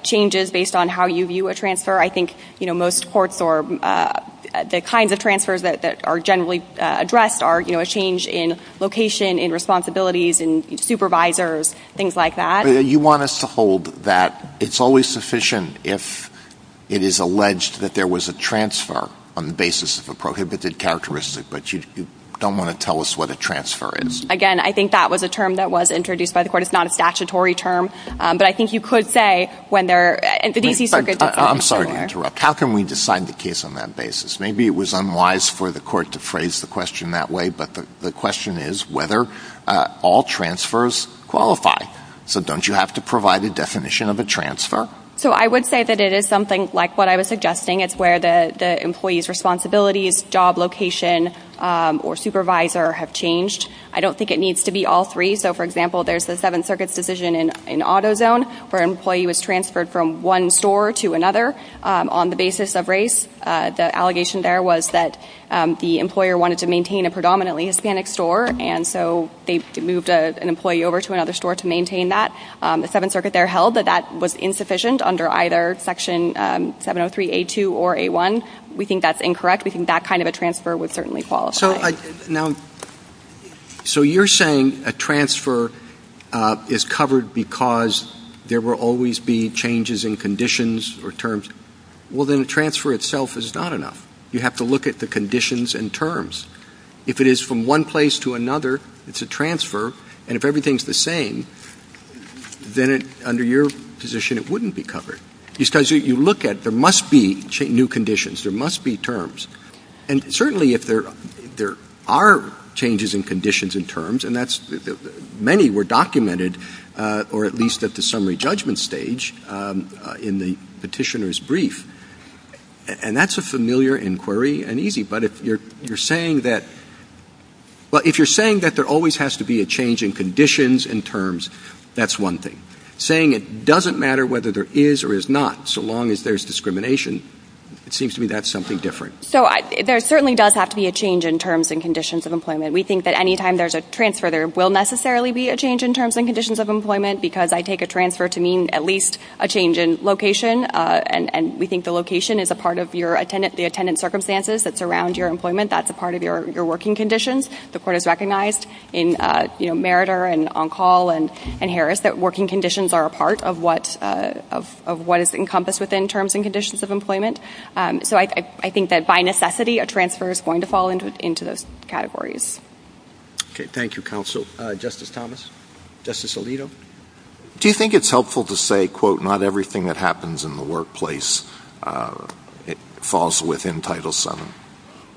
changes based on how you view a transfer. I think most courts, or the kinds of transfers that are generally addressed, are a change in location, in responsibilities, in supervisors, things like that. So you want us to hold that it's always sufficient if it is alleged that there was a transfer on the basis of a prohibited characteristic, but you don't want to tell us what a transfer is. Again, I think that was a term that was introduced by the court. It's not a statutory term. But I think you could say when they're in the D.C. Circuit. I'm sorry to interrupt. How can we decide the case on that basis? Maybe it was unwise for the court to phrase the question that way, but the question is whether all transfers qualify. So don't you have to provide a definition of a transfer? So I would say that it is something like what I was suggesting. It's where the employee's responsibilities, job location, or supervisor have changed. I don't think it needs to be all three. So, for example, there's the Seventh Circuit's decision in AutoZone where an employee was transferred from one store to another on the basis of race. The allegation there was that the employer wanted to maintain a predominantly Hispanic store, and so they moved an employee over to another store to maintain that. The Seventh Circuit there held that that was insufficient under either Section 703A2 or A1. We think that's incorrect. We think that kind of a transfer would certainly qualify. So you're saying a transfer is covered because there will always be changes in conditions or terms. Well, then the transfer itself is not enough. You have to look at the conditions and terms. If it is from one place to another, it's a transfer, and if everything's the same, then under your position it wouldn't be covered. Because you look at there must be new conditions. There must be terms. And certainly if there are changes in conditions and terms, and many were documented, or at least at the summary judgment stage in the petitioner's brief, and that's a familiar inquiry and easy. But if you're saying that there always has to be a change in conditions and terms, that's one thing. Saying it doesn't matter whether there is or is not, so long as there's discrimination, it seems to me that's something different. So there certainly does have to be a change in terms and conditions of employment. We think that any time there's a transfer, there will necessarily be a change in terms and conditions of employment, because I take a transfer to mean at least a change in location, and we think the location is a part of the attendant circumstances that surround your employment. That's a part of your working conditions. The Court has recognized in Meritor and On Call and Harris that working conditions are a part of what is encompassed within terms and conditions of employment. So I think that by necessity, a transfer is going to fall into those categories. Okay. Thank you, Counsel. Justice Thomas? Justice Alito? Do you think it's helpful to say, quote, not everything that happens in the workplace falls within Title VII?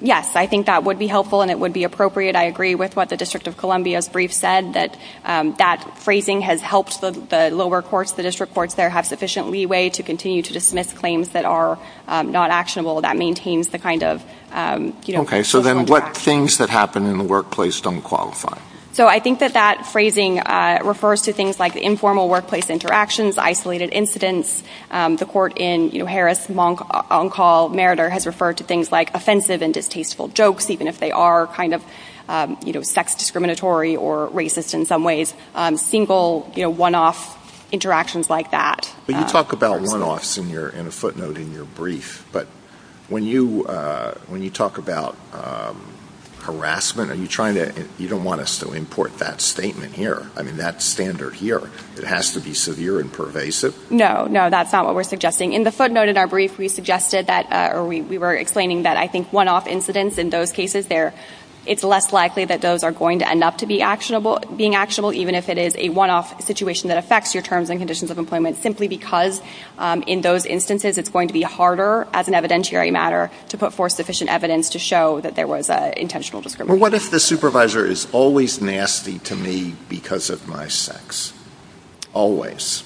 Yes, I think that would be helpful and it would be appropriate. I agree with what the District of Columbia's brief said, that that phrasing has helped the lower courts, the district courts there, have sufficient leeway to continue to dismiss claims that are not actionable. That maintains the kind of... Okay, so then what things that happen in the workplace don't qualify? So I think that that phrasing refers to things like informal workplace interactions, isolated incidents. The Court in Harris, Monk, On Call, Meritor has referred to things like offensive and distasteful jokes, even if they are kind of sex discriminatory or racist in some ways. Single, one-off interactions like that. But you talk about one-offs in a footnote in your brief, but when you talk about harassment, you don't want to still import that statement here. I mean, that standard here, it has to be severe and pervasive. No, no, that's not what we're suggesting. In the footnote in our brief, we were explaining that I think one-off incidents in those cases, it's less likely that those are going to end up being actionable, even if it is a one-off situation that affects your terms and conditions of employment, simply because in those instances it's going to be harder, as an evidentiary matter, to put forth sufficient evidence to show that there was intentional discrimination. Well, what if the supervisor is always nasty to me because of my sex? Always.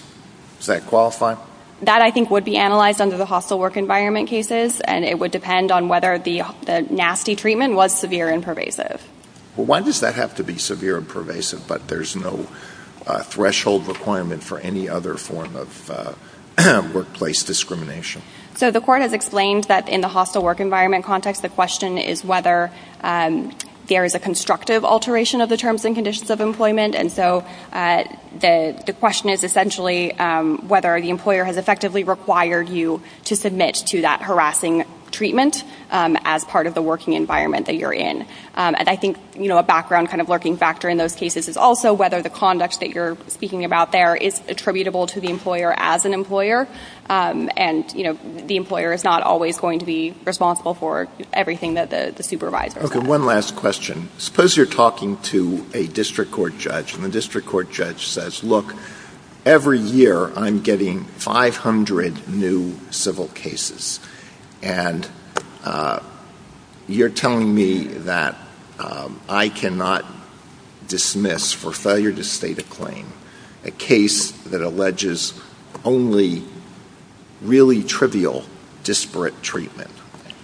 Does that qualify? That, I think, would be analyzed under the hostile work environment cases, and it would depend on whether the nasty treatment was severe and pervasive. Well, why does that have to be severe and pervasive, but there's no threshold requirement for any other form of workplace discrimination? So the court has explained that in the hostile work environment context, the question is whether there is a constructive alteration of the terms and conditions of employment, and so the question is essentially whether the employer has effectively required you to submit to that harassing treatment as part of the working environment that you're in. And I think a background kind of lurking factor in those cases is also whether the conduct that you're speaking about there is attributable to the employer as an employer, and the employer is not always going to be responsible for everything that the supervisor does. Okay, one last question. Suppose you're talking to a district court judge, and the district court judge says, look, every year I'm getting 500 new civil cases, and you're telling me that I cannot dismiss for failure to state a claim a case that alleges only really trivial disparate treatment.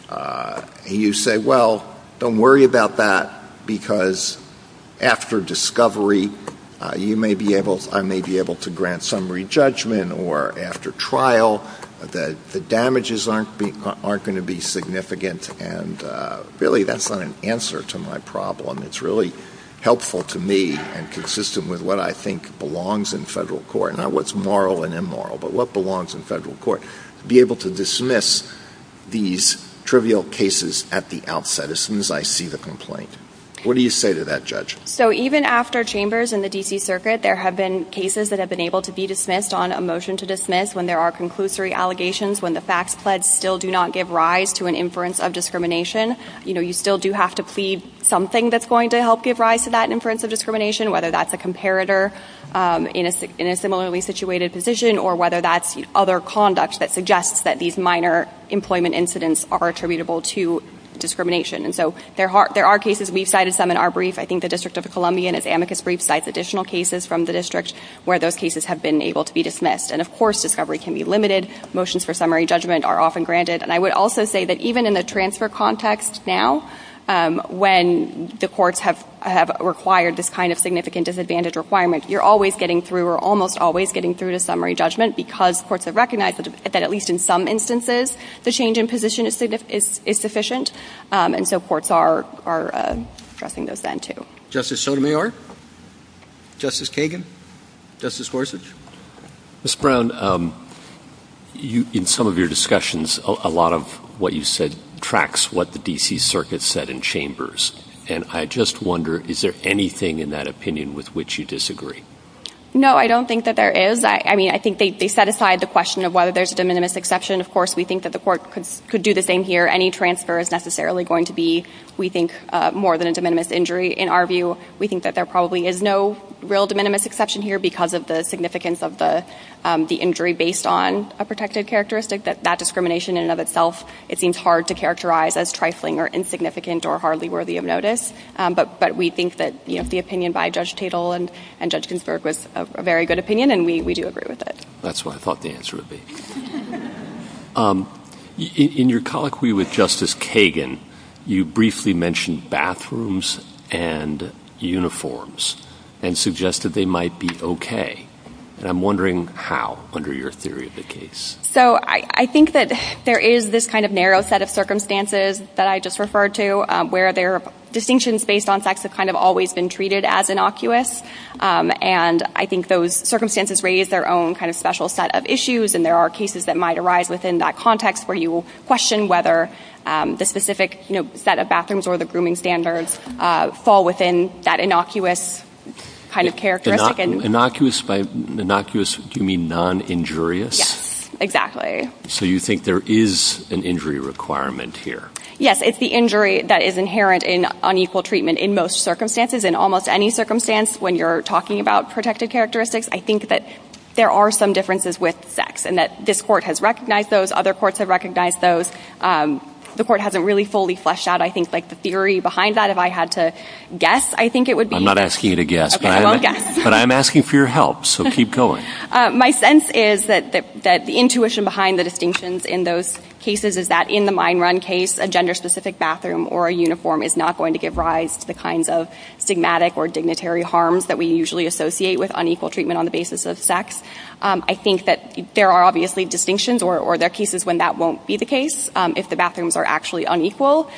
And you say, well, don't worry about that, because after discovery, I may be able to grant summary judgment, or after trial, the damages aren't going to be significant, and really that's not an answer to my problem. It's really helpful to me and consistent with what I think belongs in federal court, not what's moral and immoral, but what belongs in federal court, to be able to dismiss these trivial cases at the outset, as soon as I see the complaint. What do you say to that, Judge? So even after chambers in the D.C. Circuit, there have been cases that have been able to be dismissed on a motion to dismiss when there are conclusory allegations, when the facts still do not give rise to an inference of discrimination. You still do have to plead something that's going to help give rise to that inference of discrimination, whether that's a comparator in a similarly situated position, or whether that's other conduct that suggests that these minor employment incidents are attributable to discrimination. And so there are cases, we've cited some in our brief. I think the District of Columbia in its amicus brief cites additional cases from the district where those cases have been able to be dismissed. And, of course, discovery can be limited. Motions for summary judgment are often granted. And I would also say that even in a transfer context now, when the courts have required this kind of significant disadvantage requirement, you're always getting through or almost always getting through to summary judgment because courts have recognized that at least in some instances the change in position is sufficient. And so courts are addressing those then, too. Justice Sotomayor? Justice Kagan? Justice Gorsuch? Ms. Brown, in some of your discussions, a lot of what you said tracks what the D.C. Circuit said in chambers. And I just wonder, is there anything in that opinion with which you disagree? No, I don't think that there is. I mean, I think they set aside the question of whether there's a de minimis exception. Of course, we think that the court could do the same here. Any transfer is necessarily going to be, we think, more than a de minimis injury. In our view, we think that there probably is no real de minimis exception here because of the significance of the injury based on a protective characteristic, that that discrimination in and of itself, it seems hard to characterize as trifling or insignificant or hardly worthy of notice. But we think that the opinion by Judge Tatel and Judge Ginsburg was a very good opinion, and we do agree with it. That's what I thought the answer would be. In your colloquy with Justice Kagan, you briefly mentioned bathrooms and uniforms and suggested they might be okay. And I'm wondering how, under your theory of the case. So I think that there is this kind of narrow set of circumstances that I just referred to where their distinctions based on sex have kind of always been treated as innocuous. And I think those circumstances raise their own kind of special set of issues, and there are cases that might arise within that context where you question whether the specific set of bathrooms or the grooming standards fall within that innocuous kind of characteristic. Innocuous, by innocuous, do you mean non-injurious? Yes, exactly. So you think there is an injury requirement here? Yes, it's the injury that is inherent in unequal treatment in most circumstances. In almost any circumstance, when you're talking about protective characteristics, I think that there are some differences with sex and that this court has recognized those. Other courts have recognized those. The court hasn't really fully fleshed out, I think, like the theory behind that. If I had to guess, I think it would be. I'm not asking you to guess, but I'm asking for your help, so keep going. My sense is that the intuition behind the distinctions in those cases is that in the mine run case, a gender-specific bathroom or a uniform is not going to give rise to the kinds of stigmatic or dignitary harms that we usually associate with unequal treatment on the basis of sex. I think that there are obviously distinctions or there are cases when that won't be the case if the bathrooms are actually unequal,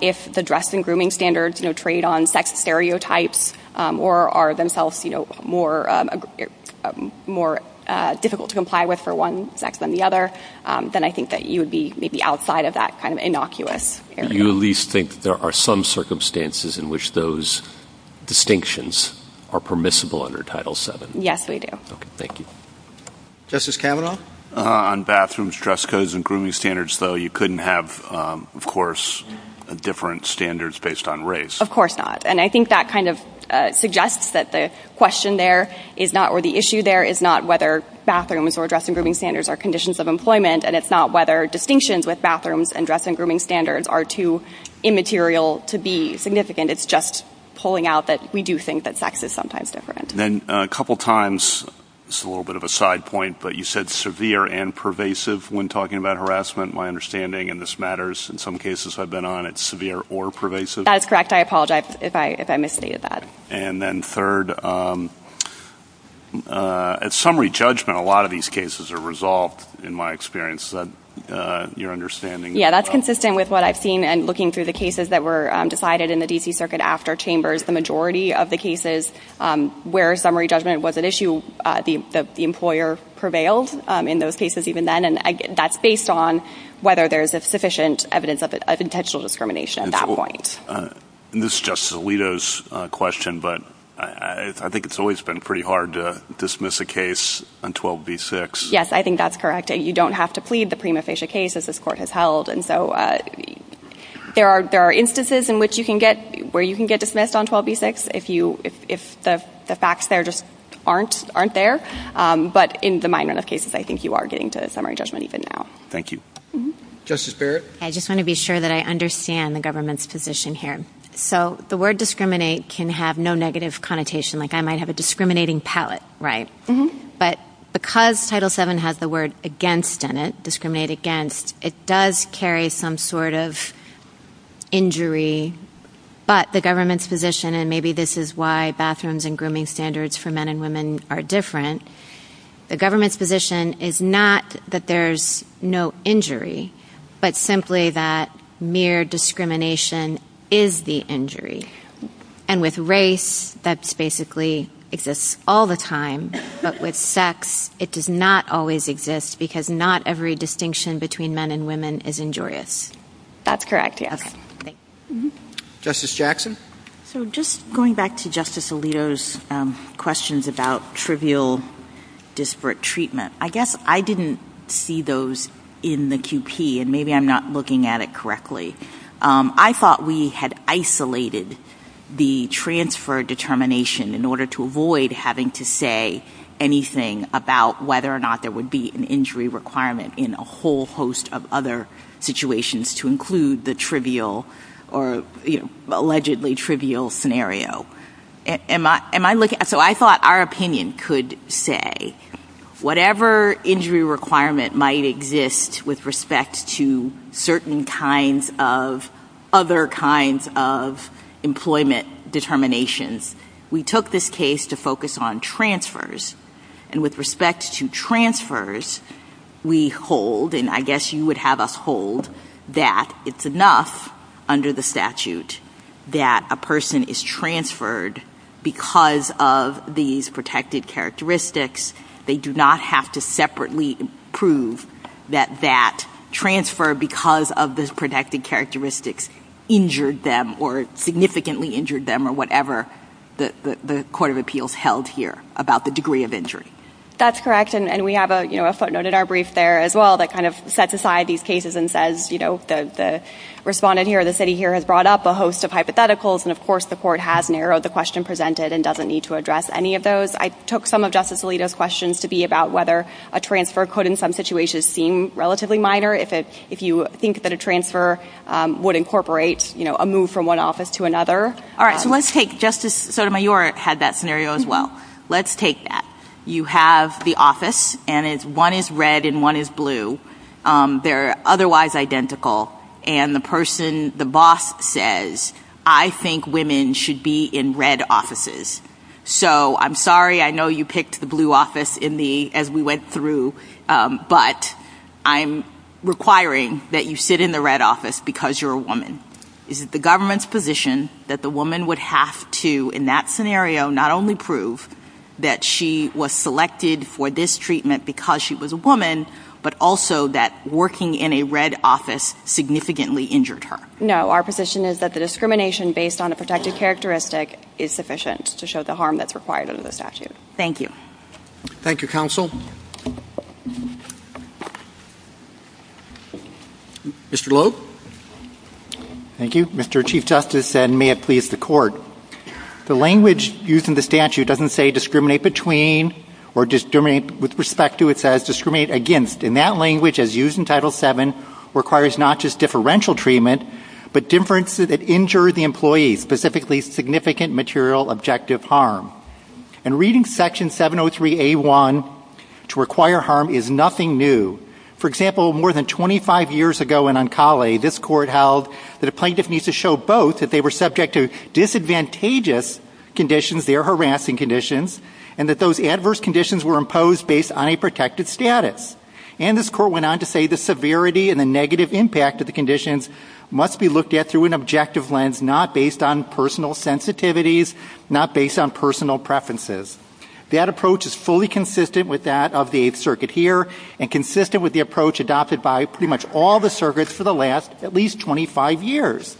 if the dress and grooming standards trade on sex stereotypes or are themselves more difficult to comply with for one sex than the other, then I think that you would be maybe outside of that kind of innocuous area. Do you at least think there are some circumstances in which those distinctions are permissible under Title VII? Yes, we do. Okay, thank you. Justice Kavanaugh? On bathrooms, dress codes, and grooming standards, though, you couldn't have, of course, different standards based on race. Of course not, and I think that kind of suggests that the question there is not, or the issue there, is not whether bathrooms or dress and grooming standards are conditions of employment and it's not whether distinctions with bathrooms and dress and grooming standards are too immaterial to be significant. It's just pulling out that we do think that sex is sometimes different. And then a couple times, just a little bit of a side point, but you said severe and pervasive when talking about harassment. My understanding, and this matters in some cases I've been on, it's severe or pervasive. That is correct. I apologize if I misstated that. And then third, at summary judgment, a lot of these cases are resolved, in my experience. Is that your understanding? Yes, that's consistent with what I've seen in looking through the cases that were decided in the D.C. Circuit after Chambers. The majority of the cases where summary judgment was at issue, the employer prevailed in those cases even then, and that's based on whether there's sufficient evidence of intentional discrimination at that point. And this is Justice Alito's question, but I think it's always been pretty hard to dismiss a case on 12b-6. Yes, I think that's correct. You don't have to plead the prima facie case, as this court has held, and so there are instances where you can get dismissed on 12b-6 if the facts there just aren't there. But in the minor enough cases, I think you are getting to the summary judgment even now. Thank you. Justice Barrett? I just want to be sure that I understand the government's position here. So the word discriminate can have no negative connotation. Like, I might have a discriminating palate, right? But because Title VII has the word against in it, discriminate against, it does carry some sort of injury. But the government's position, and maybe this is why bathrooms and grooming standards for men and women are different, the government's position is not that there's no injury, but simply that mere discrimination is the injury. And with race, that basically exists all the time. But with sex, it does not always exist because not every distinction between men and women is injurious. That's correct, yes. Justice Jackson? So just going back to Justice Alito's questions about trivial disparate treatment, I guess I didn't see those in the QP, and maybe I'm not looking at it correctly. I thought we had isolated the transfer determination in order to avoid having to say anything about whether or not there would be an injury requirement in a whole host of other situations to include the trivial or, you know, allegedly trivial scenario. So I thought our opinion could say whatever injury requirement might exist with respect to certain kinds of other kinds of employment determinations, we took this case to focus on transfers. And with respect to transfers, we hold, and I guess you would have us hold, that it's enough under the statute that a person is transferred because of these protected characteristics. They do not have to separately prove that that transfer because of those protected characteristics injured them or significantly injured them or whatever the court of appeals held here about the degree of injury. That's correct, and we have a footnote in our brief there as well that kind of sets aside these cases and says, you know, the respondent here, the city here has brought up a host of hypotheticals, and of course the court has narrowed the question presented and doesn't need to address any of those. I took some of Justice Alito's questions to be about whether a transfer could in some situations seem relatively minor. If you think that a transfer would incorporate, you know, a move from one office to another. All right, so let's take Justice Sotomayor had that scenario as well. Let's take that. You have the office, and one is red and one is blue. They're otherwise identical, and the person, the boss says, I think women should be in red offices. So I'm sorry, I know you picked the blue office as we went through, but I'm requiring that you sit in the red office because you're a woman. Is it the government's position that the woman would have to, in that scenario, not only prove that she was selected for this treatment because she was a woman, but also that working in a red office significantly injured her? No, our position is that the discrimination based on a protective characteristic is sufficient to show the harm that's required under the statute. Thank you. Thank you, counsel. Mr. Lowe. Thank you, Mr. Chief Justice, and may it please the court. The language used in the statute doesn't say discriminate between or discriminate with respect to. It says that the plaintiff needs to show both that they were subject to adverse conditions, their harassing conditions, and that those adverse conditions were imposed based on a protected status. But differences that injure the employee, specifically significant material objective harm. And reading section 703A1 to require harm is nothing new. For example, more than 25 years ago in Ancala, this court held that a plaintiff needs to show both that they were subject to disadvantageous conditions, their harassing conditions, and that those adverse conditions were imposed based on a protected status. And this court went on to say the severity and the negative impact of the conditions must be looked at through an objective lens, not based on personal sensitivities, not based on personal preferences. That approach is fully consistent with that of the Eighth Circuit here, and consistent with the approach adopted by pretty much all the circuits for the last at least 25 years.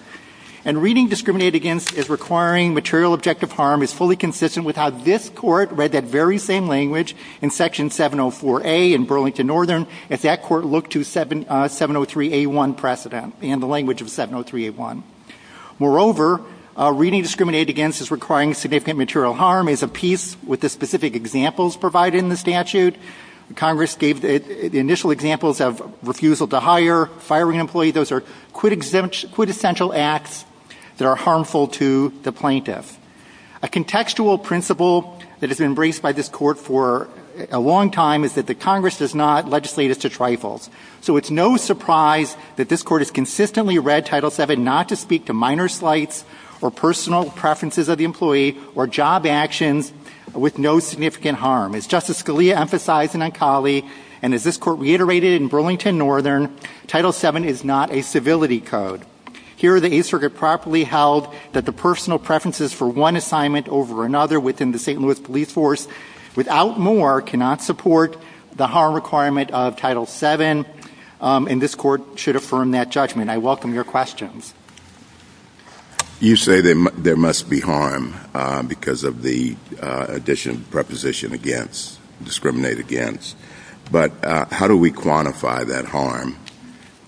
And reading discriminate against as requiring material objective harm is fully consistent with how this court read that very same language in section 704A in Burlington Northern. If that court looked to 703A1 precedent and the language of 703A1. Moreover, reading discriminate against as requiring significant material harm is a piece with the specific examples provided in the statute. Congress gave the initial examples of refusal to hire, firing an employee. Those are quintessential acts that are harmful to the plaintiff. A contextual principle that has been embraced by this court for a long time is that the Congress does not legislate as to trifles. So it's no surprise that this court has consistently read Title VII not to speak to minor slights or personal preferences of the employee or job actions with no significant harm. As Justice Scalia emphasized in Anchali, and as this court reiterated in Burlington Northern, Title VII is not a civility code. Here the Eighth Circuit properly held that the personal preferences for one assignment over another within the St. Louis police force, without more, cannot support the harm requirement of Title VII. And this court should affirm that judgment. I welcome your questions. You say there must be harm because of the addition, preposition against, discriminate against. But how do we quantify that harm?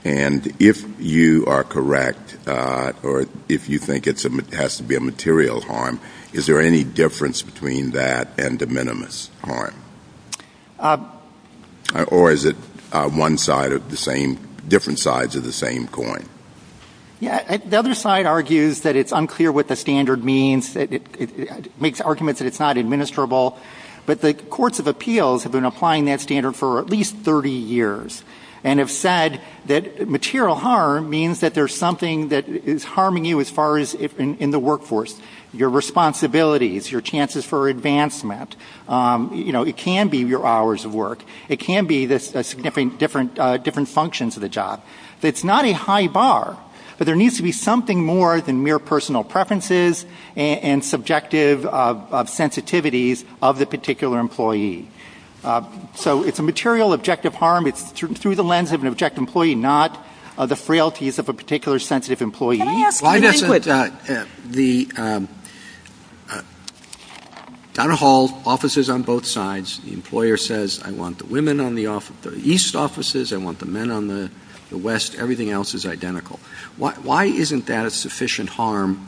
And if you are correct, or if you think it has to be a material harm, is there any difference between that and de minimis harm? Or is it one side of the same, different sides of the same coin? The other side argues that it's unclear what the standard means. It makes arguments that it's not administrable. But the courts of appeals have been applying that standard for at least 30 years. And have said that material harm means that there's something that is harming you as far as in the workforce. Your responsibilities, your chances for advancement. It can be your hours of work. It can be the significant different functions of the job. It's not a high bar. But there needs to be something more than mere personal preferences and subjective sensitivities of the particular employee. So it's a material, objective harm. It's through the lens of an objective employee, not the frailties of a particular sensitive employee. Donna Hall offices on both sides. The employer says I want the women on the east offices. I want the men on the west. Everything else is identical. Why isn't that a sufficient harm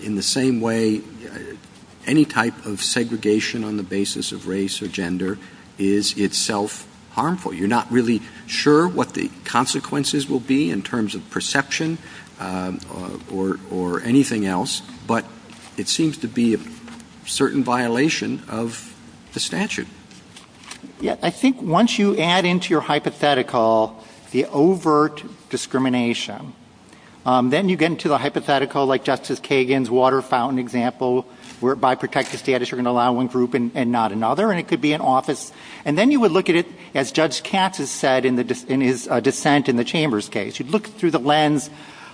in the same way any type of segregation on the basis of race or gender is itself harmful? You're not really sure what the consequences will be in terms of perception. Or anything else. But it seems to be a certain violation of the statute. I think once you add into your hypothetical the overt discrimination. Then you get into the hypothetical like Justice Kagan's water fountain example. Where by protective status you're going to allow one group and not another. And it could be an office. And then you would look at it as Judge Katz has said in his dissent in the Chambers case. You'd look through the lens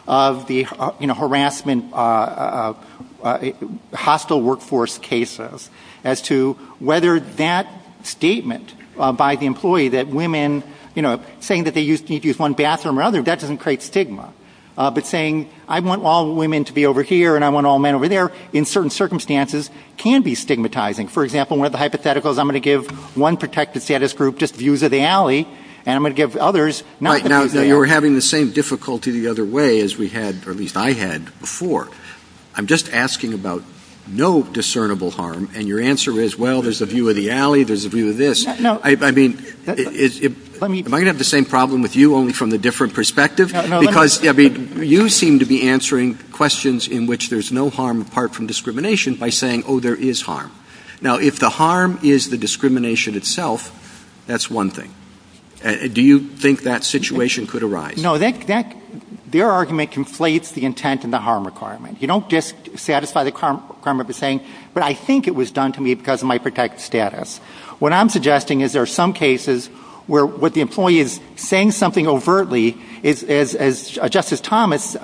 of the harassment, hostile workforce cases. As to whether that statement by the employee that women, you know, saying that they need to use one bathroom or another. That doesn't create stigma. But saying I want all women to be over here and I want all men over there. In certain circumstances can be stigmatizing. For example, one of the hypotheticals I'm going to give one protective status group just views of the alley. And I'm going to give others. Now you're having the same difficulty the other way as we had or at least I had before. I'm just asking about no discernible harm. And your answer is, well, there's a view of the alley. There's a view of this. I mean, am I going to have the same problem with you only from a different perspective? Because you seem to be answering questions in which there's no harm apart from discrimination by saying, oh, there is harm. Now, if the harm is the discrimination itself, that's one thing. Do you think that situation could arise? No, their argument conflates the intent and the harm requirement. You don't just satisfy the harm requirement by saying, but I think it was done to me because of my protective status. What I'm suggesting is there are some cases where what the employee is saying something overtly, as Justice Thomas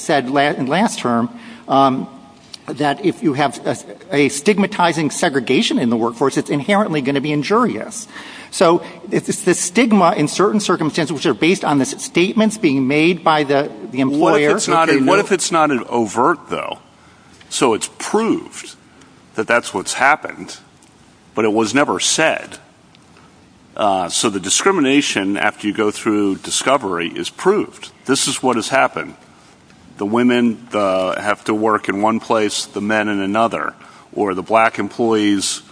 said last term, that if you have a stigmatizing segregation in the workforce, it's inherently going to be injurious. So it's the stigma in certain circumstances which are based on the statements being made by the employer. What if it's not overt, though? So it's proved that that's what's happened, but it was never said. So the discrimination, after you go through discovery, is proved. This is what has happened. The women have to work in one place, the men in another, or the black employees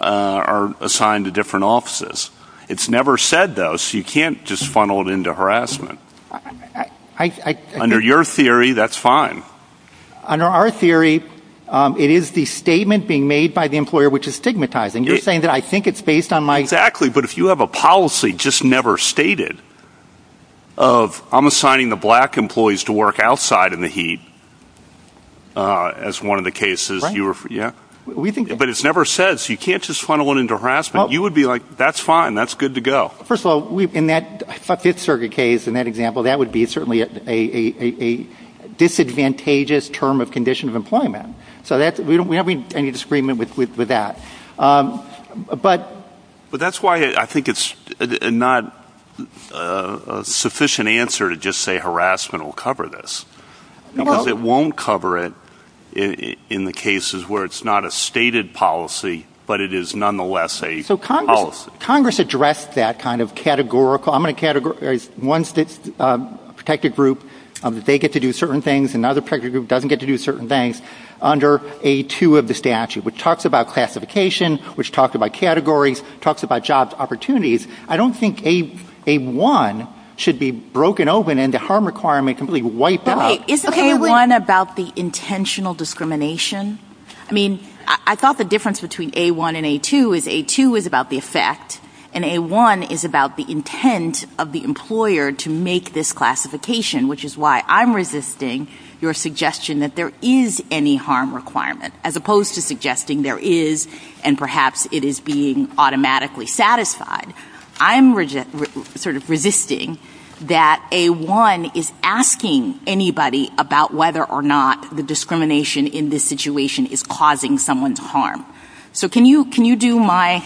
are assigned to different offices. It's never said, though, so you can't just funnel it into harassment. Under your theory, that's fine. Under our theory, it is the statement being made by the employer which is stigmatizing. Exactly, but if you have a policy just never stated of I'm assigning the black employees to work outside in the heat as one of the cases, but it's never said, so you can't just funnel it into harassment. You would be like, that's fine, that's good to go. First of all, in that Fifth Circuit case, in that example, that would be certainly a disadvantageous term of condition of employment. So we don't have any disagreement with that. But that's why I think it's not a sufficient answer to just say harassment will cover this. Because it won't cover it in the cases where it's not a stated policy, but it is nonetheless a policy. Congress addressed that kind of categorical. One protected group, they get to do certain things, another protected group doesn't get to do certain things, under A-2 of the statute, which talks about classification, which talks about categories, talks about jobs opportunities. I don't think A-1 should be broken open and the harm requirement completely wiped out. Isn't A-1 about the intentional discrimination? I mean, I thought the difference between A-1 and A-2 is A-2 is about the effect, and A-1 is about the intent of the employer to make this classification, which is why I'm resisting your suggestion that there is any harm requirement, as opposed to suggesting there is, and perhaps it is being automatically satisfied. I'm sort of resisting that A-1 is asking anybody about whether or not the discrimination in this situation is causing someone to harm. So can you do my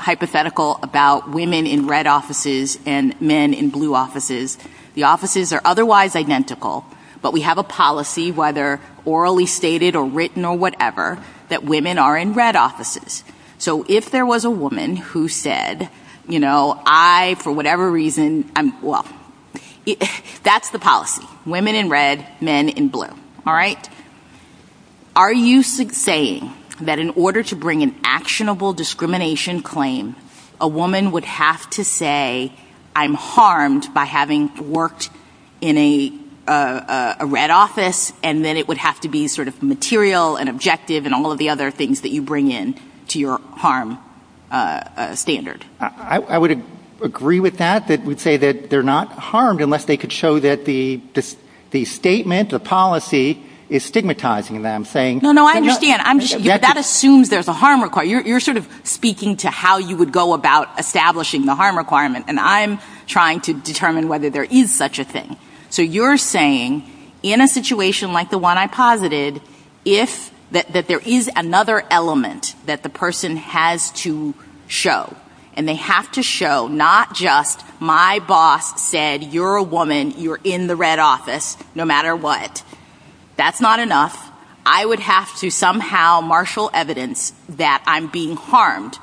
hypothetical about women in red offices and men in blue offices? The offices are otherwise identical, but we have a policy, whether orally stated or written or whatever, that women are in red offices. So if there was a woman who said, you know, I, for whatever reason, I'm, well, that's the policy. Women in red, men in blue, all right? Are you saying that in order to bring an actionable discrimination claim, a woman would have to say, I'm harmed by having worked in a red office, and then it would have to be sort of material and objective and all of the other things that you bring in to your harm standard? I would agree with that. I would say that they're not harmed unless they could show that the statement, the policy, is stigmatizing them. No, no, I understand. That assumes there's a harm requirement. You're sort of speaking to how you would go about establishing the harm requirement, and I'm trying to determine whether there is such a thing. So you're saying in a situation like the one I posited, that there is another element that the person has to show, and they have to show not just my boss said you're a woman, you're in the red office, no matter what. That's not enough. I would have to somehow marshal evidence that I'm being harmed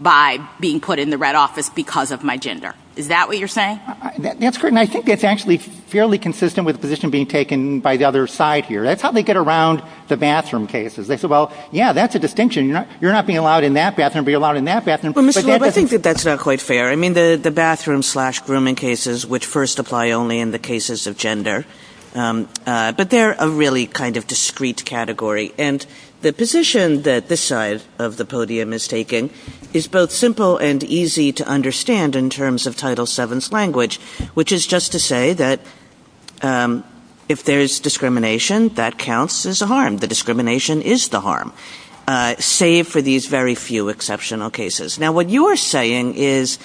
by being put in the red office because of my gender. Is that what you're saying? That's correct, and I think it's actually fairly consistent with the position being taken by the other side here. That's how they get around the bathroom cases. They say, well, yeah, that's a distinction. You're not being allowed in that bathroom, but you're allowed in that bathroom. Well, Mr. Loeb, I think that that's not quite fair. I mean, the bathroom slash grooming cases, which first apply only in the cases of gender, but they're a really kind of discrete category, and the position that this side of the podium is taking is both simple and easy to understand in terms of Title VII's language, which is just to say that if there's discrimination, that counts as a harm. The discrimination is the harm, save for these very few exceptional cases. Now, what you're saying is,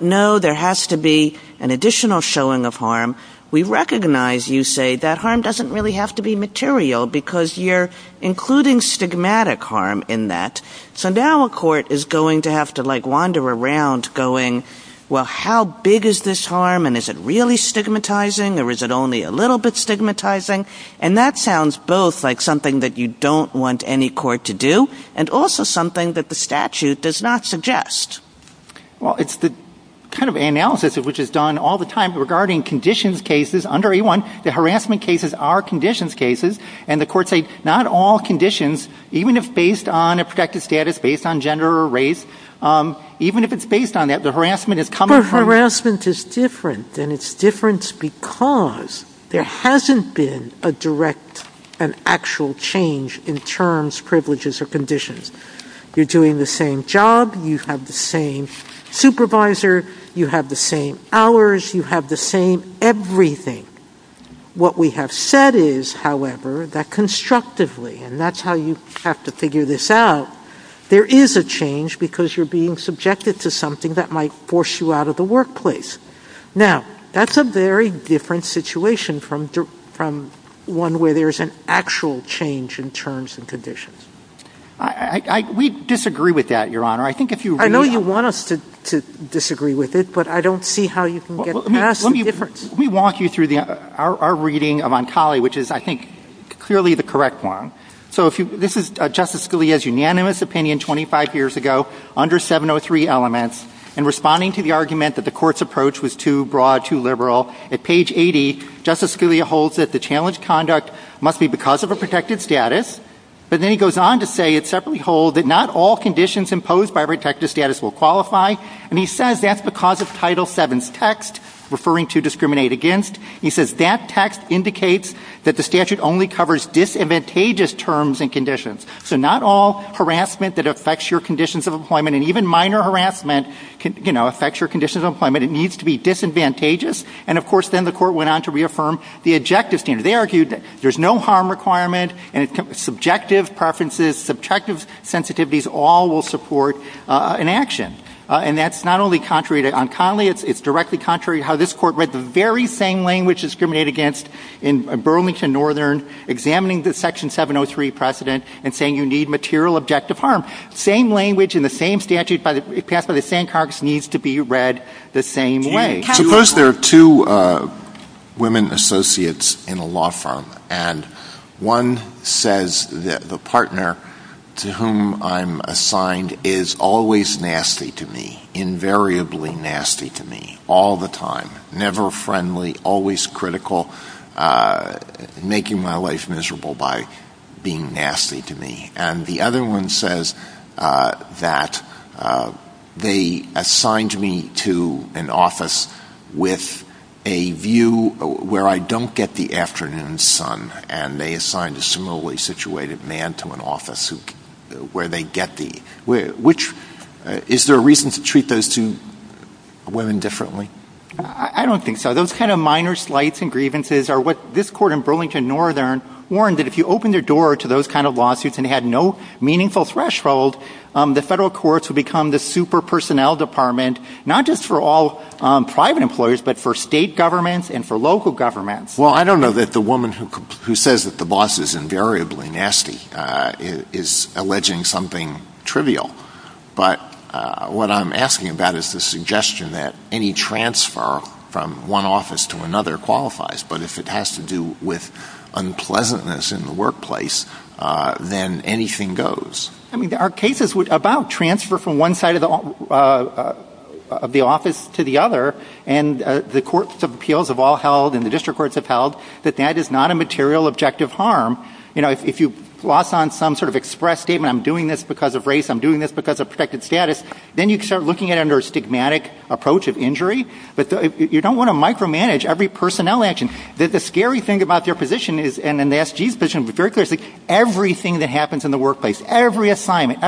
no, there has to be an additional showing of harm. We recognize, you say, that harm doesn't really have to be material because you're including stigmatic harm in that. So now a court is going to have to, like, wander around going, well, how big is this harm, and is it really stigmatizing, or is it only a little bit stigmatizing? And that sounds both like something that you don't want any court to do and also something that the statute does not suggest. Well, it's the kind of analysis which is done all the time regarding conditions cases under A-1. The harassment cases are conditions cases, and the courts say, not all conditions, even if based on a protective status, based on gender or race, even if it's based on that, the harassment is commonplace. But harassment is different, and it's different because there hasn't been a direct and actual change in terms, privileges, or conditions. You're doing the same job, you have the same supervisor, you have the same hours, you have the same everything. What we have said is, however, that constructively, and that's how you have to figure this out, there is a change because you're being subjected to something that might force you out of the workplace. Now, that's a very different situation from one where there's an actual change in terms and conditions. We disagree with that, Your Honor. I know you want us to disagree with it, but I don't see how you can get past the difference. Let me walk you through our reading of Ontale, which is, I think, clearly the correct one. So this is Justice Scalia's unanimous opinion 25 years ago under 703 elements, and responding to the argument that the court's approach was too broad, too liberal, at page 80, Justice Scalia holds that the challenged conduct must be because of a protective status, but then he goes on to say that not all conditions imposed by a protective status will qualify, and he says that's because of Title VII's text, referring to discriminate against. He says that text indicates that the statute only covers disadvantageous terms and conditions. So not all harassment that affects your conditions of employment, and even minor harassment, affects your conditions of employment, it needs to be disadvantageous, and of course then the court went on to reaffirm the objective standard. They argued that there's no harm requirement and subjective preferences, subjective sensitivities, all will support an action, and that's not only contrary to Ontale, it's directly contrary to how this Court read the very same language, discriminate against, in Burlington Northern, examining the Section 703 precedent and saying you need material objective harm. Same language in the same statute passed by the same Congress needs to be read the same way. Suppose there are two women associates in a law firm, and one says that the partner to whom I'm assigned is always nasty to me, invariably nasty to me, all the time, never friendly, always critical, making my life miserable by being nasty to me, and the other one says that they assigned me to an office with a view where I don't get the afternoon sun, and they assigned a similarly situated man to an office where they get the, which, is there a reason to treat those two women differently? I don't think so. Those kind of minor slights and grievances are what this Court in Burlington Northern warned that if you opened the door to those kind of lawsuits and had no meaningful threshold, the federal courts would become the super personnel department, not just for all private employers, but for state governments and for local governments. Well, I don't know that the woman who says that the boss is invariably nasty is alleging something trivial, but what I'm asking about is the suggestion that any transfer from one office to another qualifies, but if it has to do with unpleasantness in the workplace, then anything goes. I mean, there are cases about transfer from one side of the office to the other, and the courts of appeals have all held and the district courts have held that that is not a material objective harm. You know, if you've lost on some sort of express statement, I'm doing this because of race, I'm doing this because of protected status, then you start looking at it under a stigmatic approach of injury, but you don't want to micromanage every personnel action. The scary thing about your position is, and the S.G.'s position is very clear, everything that happens in the workplace, every assignment,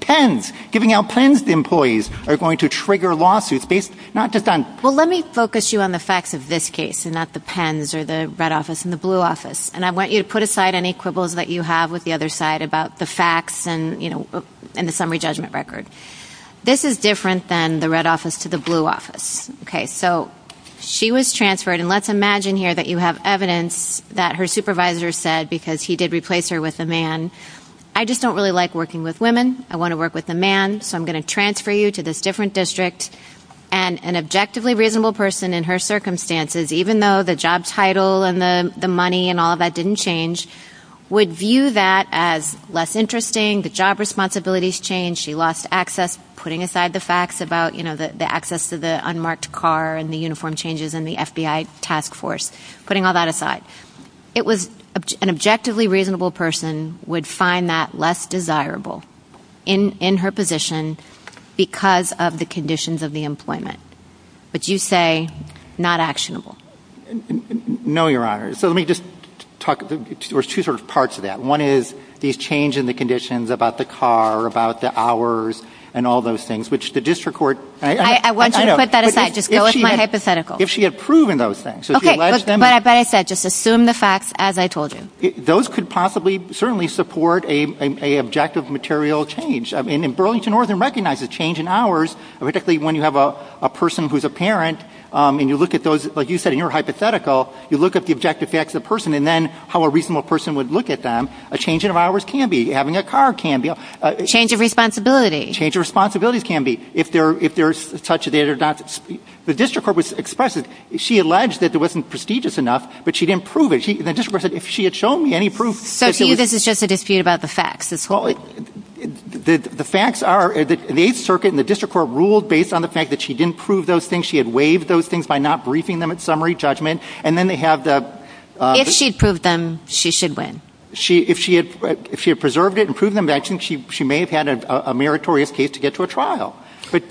pens, giving out pens to employees are going to trigger lawsuits based not just on... Well, let me focus you on the facts of this case and not the pens or the red office and the blue office, and I want you to put aside any quibbles that you have with the other side about the facts and the summary judgment record. This is different than the red office to the blue office. Okay, so she was transferred, and let's imagine here that you have evidence that her supervisor said, because he did replace her with a man, I just don't really like working with women. I want to work with a man, so I'm going to transfer you to this different district, and an objectively reasonable person in her circumstances, even though the job title and the money and all of that didn't change, would view that as less interesting, the job responsibilities changed, she lost access, putting aside the facts about, you know, the access to the unmarked car and the uniform changes in the FBI task force, putting all that aside. It was an objectively reasonable person would find that less desirable in her position because of the conditions of the employment, but you say not actionable. No, Your Honor, so let me just talk, there's two sort of parts to that. One is these change in the conditions about the car, about the hours, and all those things, which the district court- I want you to put that aside, just go with my hypothetical. If she had proven those things. Okay, but as I said, just assume the facts as I told you. Those could possibly certainly support an objective material change. I mean, Burlington Northern recognizes change in hours, particularly when you have a person who's a parent, and you look at those, like you said, when you're hypothetical, you look at the objective facts of the person, and then how a reasonable person would look at them. A change in hours can be, having a car can be- Change of responsibility. Change of responsibilities can be, if there's such a- The district court was expressive. She alleged that it wasn't prestigious enough, but she didn't prove it. The district court said if she had shown me any proof- So to you this is just a dispute about the facts as well? The facts are, the 8th Circuit and the district court ruled based on the fact that she didn't prove those things, she had waived those things by not briefing them at summary judgment, and then they have the- If she'd proved them, she should win. If she had preserved it and proved them, she may have had a meritorious case to get to a trial,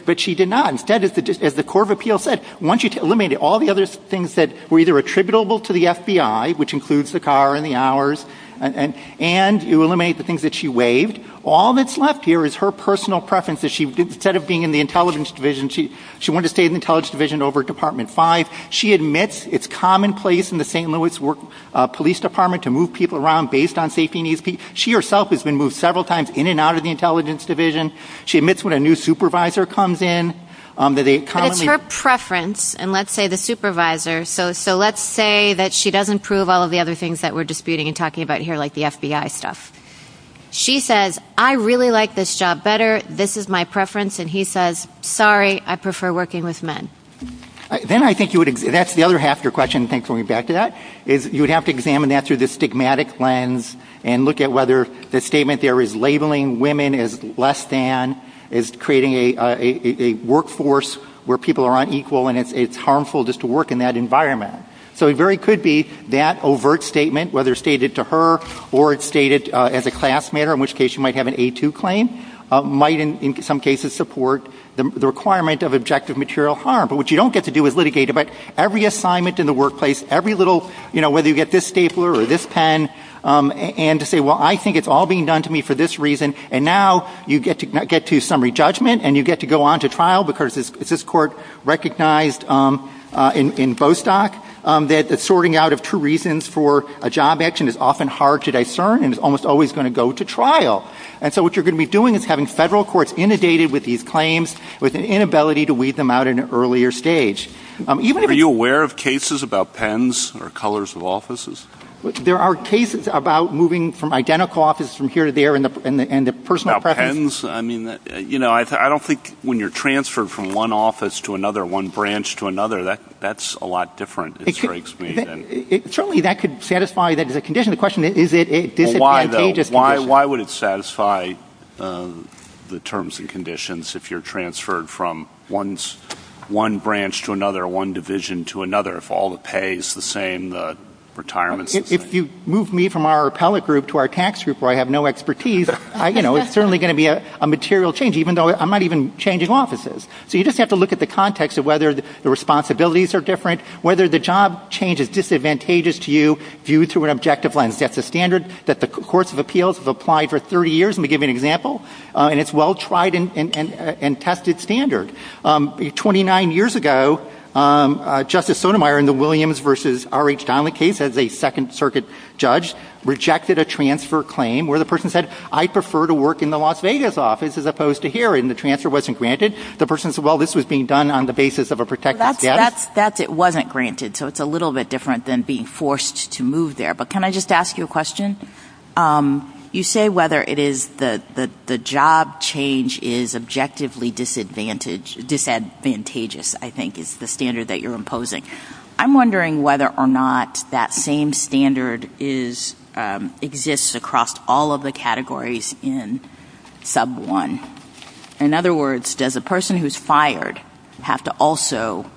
but she did not. Instead, as the court of appeals said, once you've eliminated all the other things that were either attributable to the FBI, which includes the car and the hours, and you eliminate the things that she waived, all that's left here is her personal preferences. Instead of being in the Intelligence Division, she wanted to stay in the Intelligence Division over Department 5. She admits it's commonplace in the St. Louis Police Department to move people around based on safety needs. She herself has been moved several times in and out of the Intelligence Division. She admits when a new supervisor comes in, that they- So it's her preference, and let's say the supervisor, so let's say that she doesn't prove all of the other things that we're disputing and talking about here, like the FBI stuff. She says, I really like this job better, this is my preference, and he says, sorry, I prefer working with men. Then I think you would- that's the other half of your question, thanks for bringing it back to that, is you would have to examine that through the stigmatic lens and look at whether the statement there is labeling women as less than, is creating a workforce where people are unequal and it's harmful just to work in that environment. So it very could be that overt statement, whether it's stated to her or it's stated as a class matter, in which case you might have an A2 claim, might in some cases support the requirement of objective material harm. But what you don't get to do is litigate about every assignment in the workplace, every little, you know, whether you get this stapler or this pen, and to say, well, I think it's all being done to me for this reason, and now you get to get to summary judgment and you get to go on to trial because it's this court recognized in Bostock that the sorting out of two reasons for a job action is often hard to discern and is almost always going to go to trial. And so what you're going to be doing is having federal courts inundated with these claims with the inability to weed them out at an earlier stage. Are you aware of cases about pens or colors of offices? There are cases about moving from identical offices from here to there and the personal preferences- You know, I don't think when you're transferred from one office to another, one branch to another, that's a lot different, it strikes me. Surely that could satisfy the conditional question, is it contagious? Why would it satisfy the terms and conditions if you're transferred from one branch to another, one division to another, if all the pay is the same, the retirement system? If you move me from our appellate group to our tax group where I have no expertise, you know, it's certainly going to be a material change even though I'm not even changing offices. So you just have to look at the context of whether the responsibilities are different, whether the job change is disadvantageous to you viewed through an objective lens. That's a standard that the courts of appeals have applied for 30 years, let me give you an example, and it's a well-tried and tested standard. Twenty-nine years ago, Justice Sotomayor in the Williams v. R.H. Donley case as a Second Circuit judge rejected a transfer claim where the person said, I prefer to work in the Las Vegas office as opposed to here, and the transfer wasn't granted. The person said, well, this was being done on the basis of a protected debt. That's it wasn't granted, so it's a little bit different than being forced to move there. But can I just ask you a question? You say whether it is the job change is objectively disadvantageous, I think, is the standard that you're imposing. I'm wondering whether or not that same standard exists across all of the categories in sub one. In other words, does the person who's fired have to also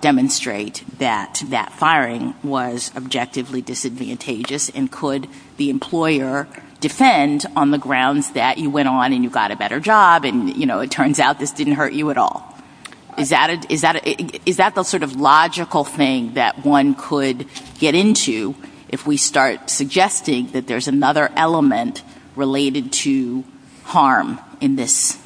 demonstrate that that firing was objectively disadvantageous, and could the employer defend on the grounds that you went on and you got a better job, and, you know, it turns out this didn't hurt you at all. Is that the sort of logical thing that one could get into if we start suggesting that there's another element related to harm in this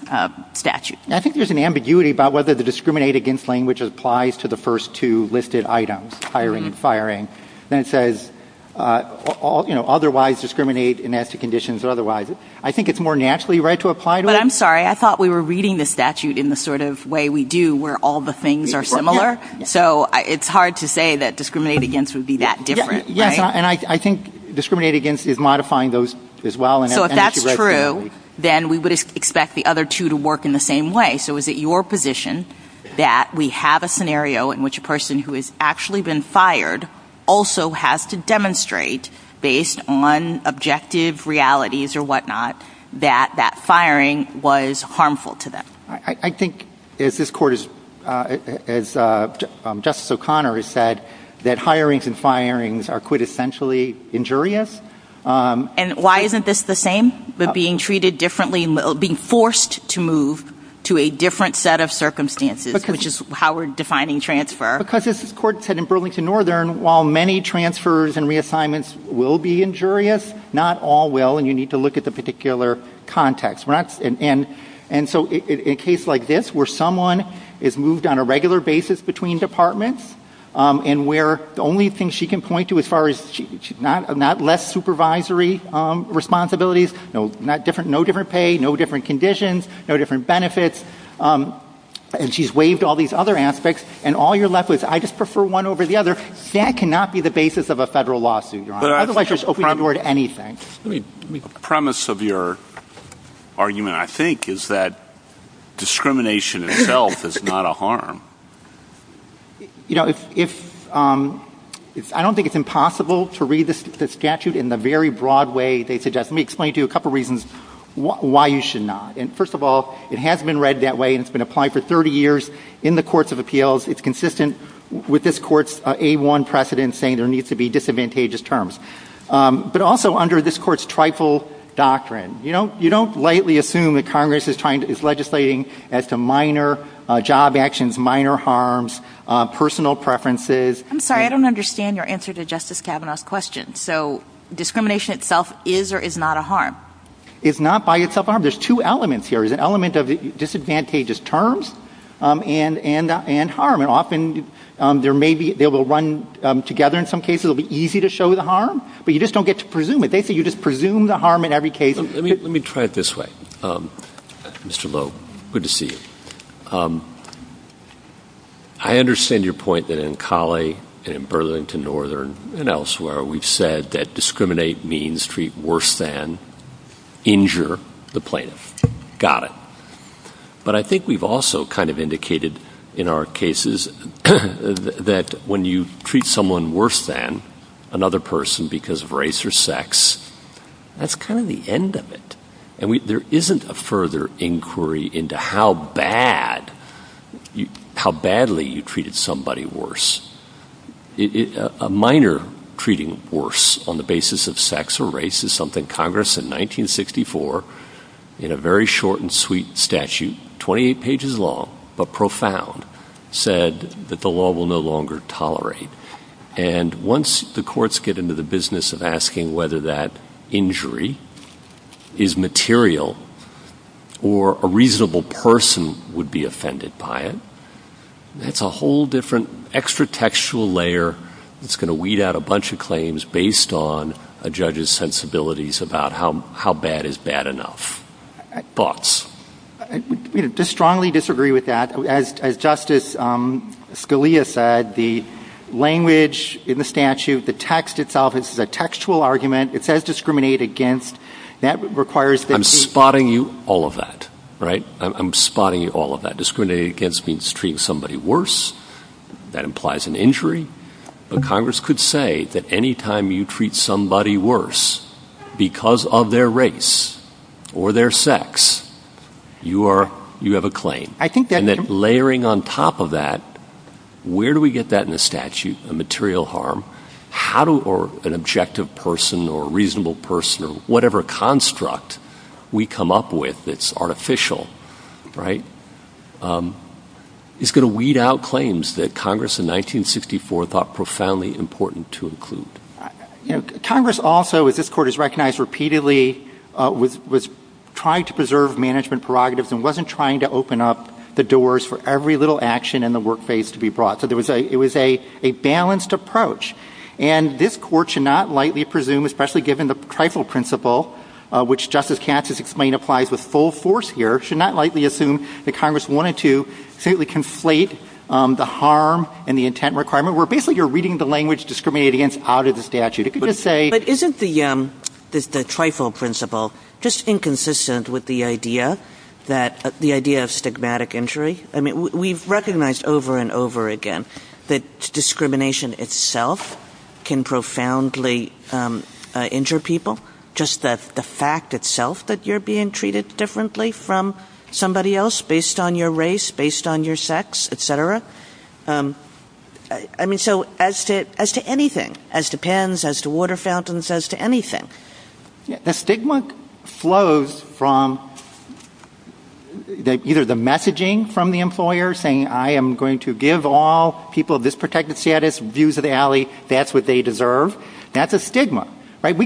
statute? I think there's an ambiguity about whether the discriminate against language applies to the first two listed items, hiring and firing, and it says, you know, otherwise discriminate in nasty conditions or otherwise. I think it's more naturally right to apply to it. I'm sorry. I thought we were reading the statute in the sort of way we do where all the things are similar. So it's hard to say that discriminate against would be that different, right? Yes, and I think discriminate against is modifying those as well. So if that's true, then we would expect the other two to work in the same way. So is it your position that we have a scenario in which a person who has actually been fired also has to demonstrate, based on objective realities or whatnot, that that firing was harmful to them? I think, as this Court has, as Justice O'Connor has said, that hirings and firings are quintessentially injurious. And why isn't this the same? That being treated differently, being forced to move to a different set of circumstances, which is how we're defining transfer. Because, as this Court said in Burlington Northern, while many transfers and reassignments will be injurious, not all will, and you need to look at the particular context. And so in a case like this, where someone is moved on a regular basis between departments and where the only thing she can point to as far as not less supervisory responsibilities, no different pay, no different conditions, no different benefits, and she's waived all these other aspects, and all you're left with is, I just prefer one over the other, that cannot be the basis of a federal lawsuit, Your Honor. Otherwise, you're just opening the door to anything. The premise of your argument, I think, is that discrimination itself is not a harm. I don't think it's impossible to read the statute in the very broad way they suggest. Let me explain to you a couple of reasons why you should not. First of all, it has been read that way, and it's been applied for 30 years in the Courts of Appeals. It's consistent with this Court's A-1 precedent saying there needs to be disadvantageous terms. But also under this Court's trifle doctrine, you don't lightly assume that Congress is legislating at some minor job actions, minor harms, personal preferences. I'm sorry, I don't understand your answer to Justice Kavanaugh's question. So, discrimination itself is or is not a harm? It's not by itself a harm. There's two elements here. There's an element of disadvantageous terms and harm. And often, they will run together in some cases. It will be easy to show the harm, but you just don't get to presume it. They say you just presume the harm in every case. Let me try it this way, Mr. Lowe. Good to see you. I understand your point that in Cali and further into Northern and elsewhere, we've said that discriminate means treat worse than, injure the plaintiff. Got it. But I think we've also kind of indicated in our cases that when you treat someone worse than another person because of race or sex, that's kind of the end of it. And there isn't a further inquiry into how badly you treated somebody worse. A minor treating worse on the basis of sex or race is something Congress in 1964, in a very short and sweet statute, 28 pages long but profound, said that the law will no longer tolerate. And once the courts get into the business of asking whether that injury is material or a reasonable person would be offended by it, it's a whole different extra textual layer that's going to weed out a bunch of claims based on a judge's sensibilities about how bad is bad enough. Thoughts? I strongly disagree with that. As Justice Scalia said, the language in the statute, the text itself, it's a textual argument. It says discriminate against. I'm spotting you all of that, right? I'm spotting you all of that. Discrimination against means treating somebody worse. That implies an injury. But Congress could say that any time you treat somebody worse because of their race or their sex, you have a claim. And then layering on top of that, where do we get that in the statute, a material harm? An objective person or a reasonable person or whatever construct we come up with that's artificial is going to weed out claims that Congress in 1964 thought profoundly important to include. Congress also, as this Court has recognized repeatedly, was trying to preserve management prerogatives and wasn't trying to open up the doors for every little action in the workplace to be brought. It was a balanced approach. And this Court should not lightly presume, especially given the trifle principle, which Justice Katz has explained applies with full force here, should not lightly assume that Congress wanted to completely conflate the harm and the intent requirement where basically you're reading the language discriminating against out of the statute. But isn't the trifle principle just inconsistent with the idea of stigmatic injury? I mean, we've recognized over and over again that discrimination itself can profoundly injure people. Just the fact itself that you're being treated differently from somebody else based on your race, based on your sex, et cetera. I mean, so as to anything, as to pens, as to water fountains, as to anything. The stigma flows from either the messaging from the employer saying, I am going to give all people of this protected status views of the alley. That's what they deserve. That's a stigma. And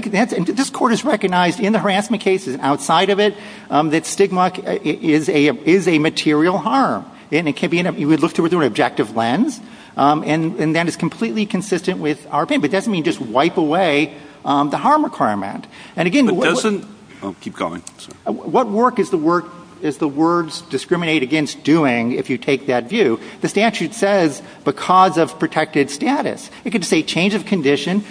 this Court has recognized in the harassment cases and outside of it that stigma is a material harm. And it can be looked at with an objective lens. And that is completely consistent with our opinion. But it doesn't mean just wipe away the harm requirement. And again, what work is the words discriminate against doing if you take that view? The statute says because of protected status. It could say change of condition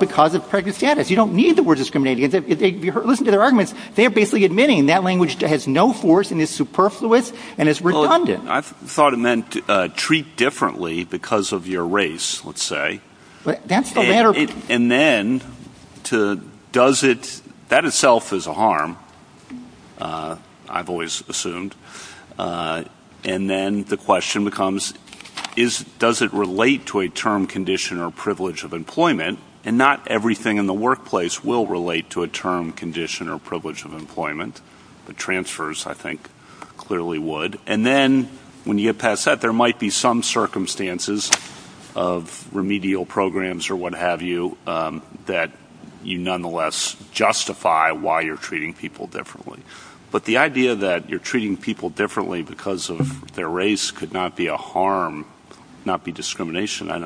because of protected status. You don't need the word discriminating against. Listen to their arguments. They're basically admitting that language has no force and is superfluous and is redundant. I thought it meant treat differently because of your race, let's say. And then does it, that itself is a harm. I've always assumed. And then the question becomes, does it relate to a term condition or privilege of employment? And not everything in the workplace will relate to a term condition or privilege of employment. The transfers I think clearly would. And then when you get past that, there might be some circumstances of remedial programs or what have you that you nonetheless justify why you're treating people differently. But the idea that you're treating people differently because of their race could not be a harm, not be discrimination. I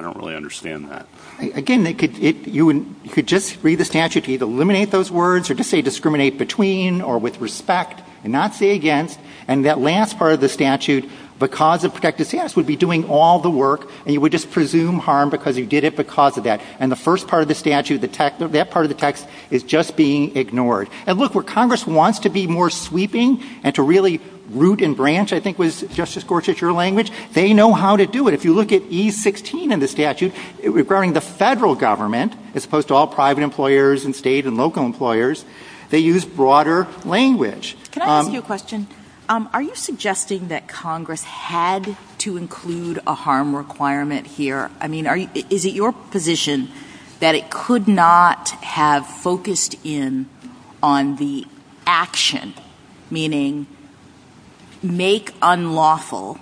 don't really understand that. Again, you could just read the statute. You could either eliminate those words or just say discriminate between or with respect and not say against. And that last part of the statute, because of protected status, would be doing all the work and you would just presume harm because you did it because of that. And the first part of the statute, that part of the text is just being ignored. And look, where Congress wants to be more sweeping and to really root and branch, I think was Justice Gorsuch's language, they know how to do it. If you look at E16 in the statute, it was referring to the federal government as opposed to all private employers and state and local employers. They used broader language. Can I ask you a question? Are you suggesting that Congress had to include a harm requirement here? I mean, is it your position that it could not have focused in on the action, meaning make unlawful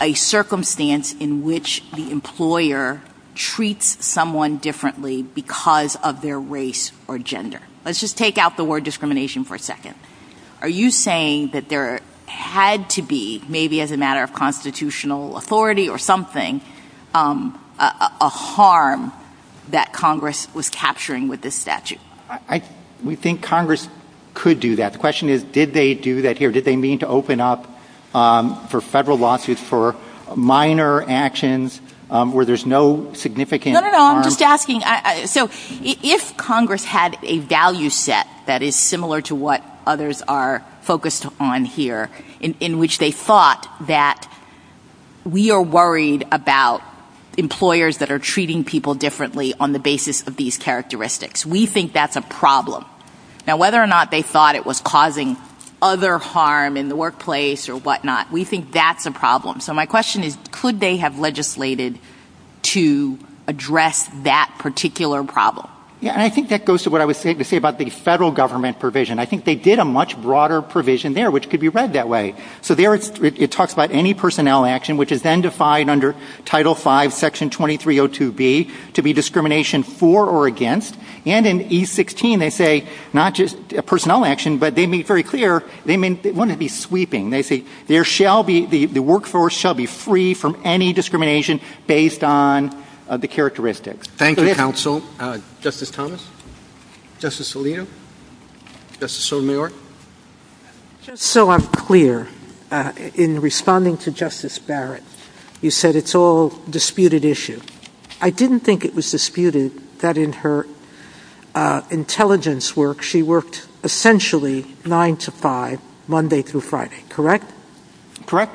a circumstance in which the employer treats someone differently because of their race or gender? Let's just take out the word discrimination for a second. Are you saying that there had to be, maybe as a matter of constitutional authority or something, a harm that Congress was capturing with this statute? We think Congress could do that. The question is, did they do that here? Did they mean to open up for federal lawsuits for minor actions where there's no significant harm? No, no, no, I'm just asking. So if Congress had a value set that is similar to what others are focused on here, in which they thought that we are worried about employers that are treating people differently on the basis of these characteristics. We think that's a problem. Now, whether or not they thought it was causing other harm in the workplace or whatnot, we think that's a problem. So my question is, could they have legislated to address that particular problem? Yeah, and I think that goes to what I was saying about the federal government provision. I think they did a much broader provision there, which could be read that way. So there it talks about any personnel action, which is then defined under Title V, Section 2302B, to be discrimination for or against. And in E16, they say not just personnel action, but they make it very clear they want it to be sweeping. They say the workforce shall be free from any discrimination based on the characteristics. Thank you, counsel. Justice Thomas? Justice Scalia? Justice Sotomayor? Just so I'm clear, in responding to Justice Barrett, you said it's all a disputed issue. I didn't think it was disputed that in her intelligence work, she worked essentially 9 to 5, Monday through Friday, correct? Correct.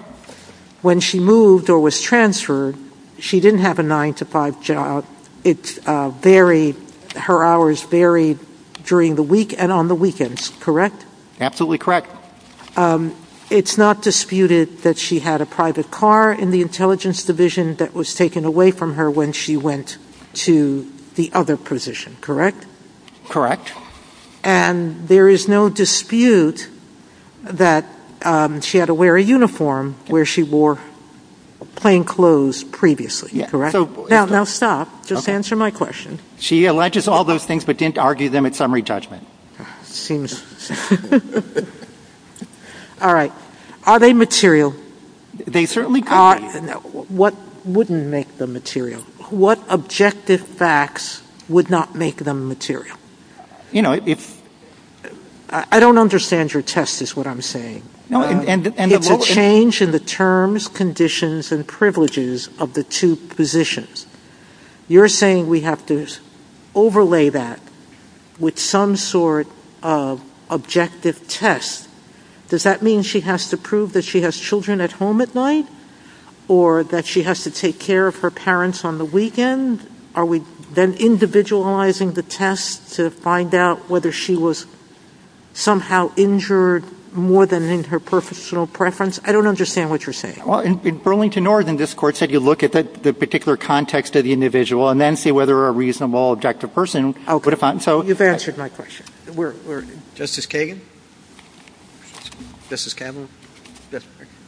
When she moved or was transferred, she didn't have a 9 to 5 job. Her hours varied during the week and on the weekends, correct? Absolutely correct. It's not disputed that she had a private car in the intelligence division that was taken away from her when she went to the other position, correct? Correct. And there is no dispute that she had to wear a uniform where she wore plain clothes previously, correct? Now stop. Just answer my question. She alleges all those things but didn't argue them in summary judgment. Seems... Alright. Are they material? They certainly are. What wouldn't make them material? What objective facts would not make them material? You know, it's... I don't understand your test is what I'm saying. It's a change in the terms, conditions, and privileges of the two positions. You're saying we have to overlay that with some sort of objective test. Does that mean she has to prove that she has children at home at night? Or that she has to take care of her parents on the weekend? Are we then individualizing the test to find out whether she was somehow injured more than in her personal preference? I don't understand what you're saying. Well, in Burlington Northern, this Court said you look at the particular context of the individual and then see whether a reasonable, objective person would have found... Okay. You've answered my question. We're... Justice Kagan? Justice Kavanaugh?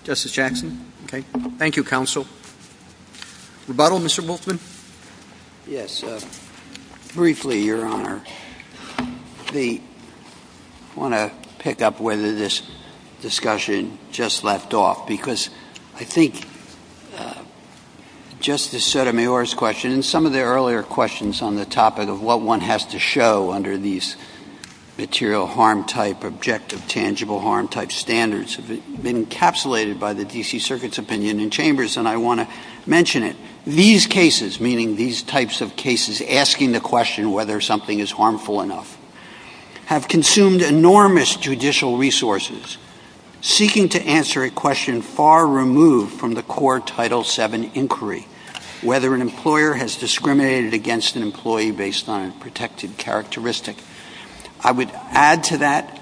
Justice Jackson? Okay. Thank you, Counsel. Rebuttal, Mr. Wolfman? Yes. Briefly, Your Honor. I want to pick up whether this discussion just left off because I think Justice Sotomayor's question and some of the earlier questions on the topic of what one has to show under these material harm-type, objective, tangible harm-type standards have been encapsulated by the D.C. Circuit's opinion in Chambers, and I want to mention it. These cases, meaning these types of cases, asking the question whether something is harmful enough, have consumed enormous judicial resources, seeking to answer a question far removed from the core Title VII inquiry, whether an employer has discriminated against an employee based on a protected characteristic. I would add to that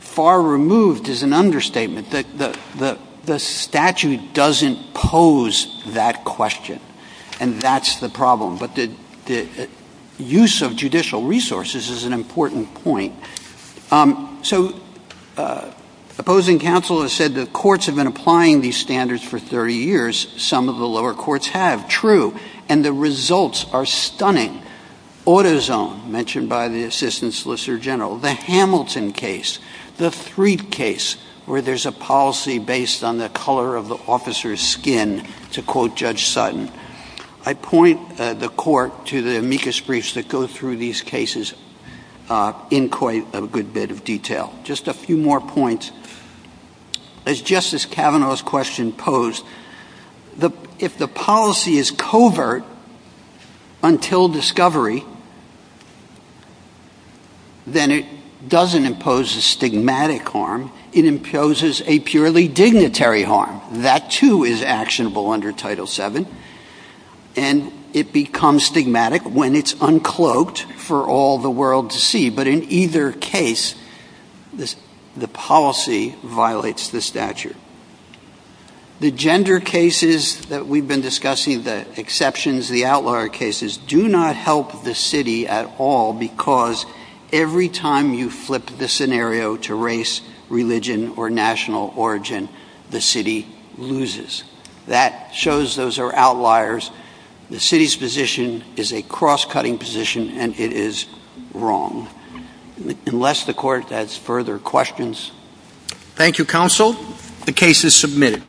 far removed is an understatement. The statute doesn't pose that question, and that's the problem. But the use of judicial resources is an important point. So opposing counsel has said that courts have been applying these standards for 30 years. Some of the lower courts have. True. And the results are stunning. Autozone, mentioned by the Assistant Solicitor General. The Hamilton case. The Threed case, where there's a policy based on the color of the officer's skin, to quote Judge Sutton. I point the court to the amicus briefs that go through these cases in quite a good bit of detail. Just a few more points. As Justice Kavanaugh's question posed, if the policy is covert until discovery, then it doesn't impose a stigmatic harm. It imposes a purely dignitary harm. That, too, is actionable under Title VII. And it becomes stigmatic when it's uncloaked for all the world to see. But in either case, the policy violates the statute. The gender cases that we've been discussing, the exceptions, the outlier cases, do not help the city at all because every time you flip the scenario to race, religion, or national origin, the city loses. That shows those are outliers. The city's position is a cross-cutting position, and it is wrong. Unless the court has further questions. Thank you, counsel. The case is submitted.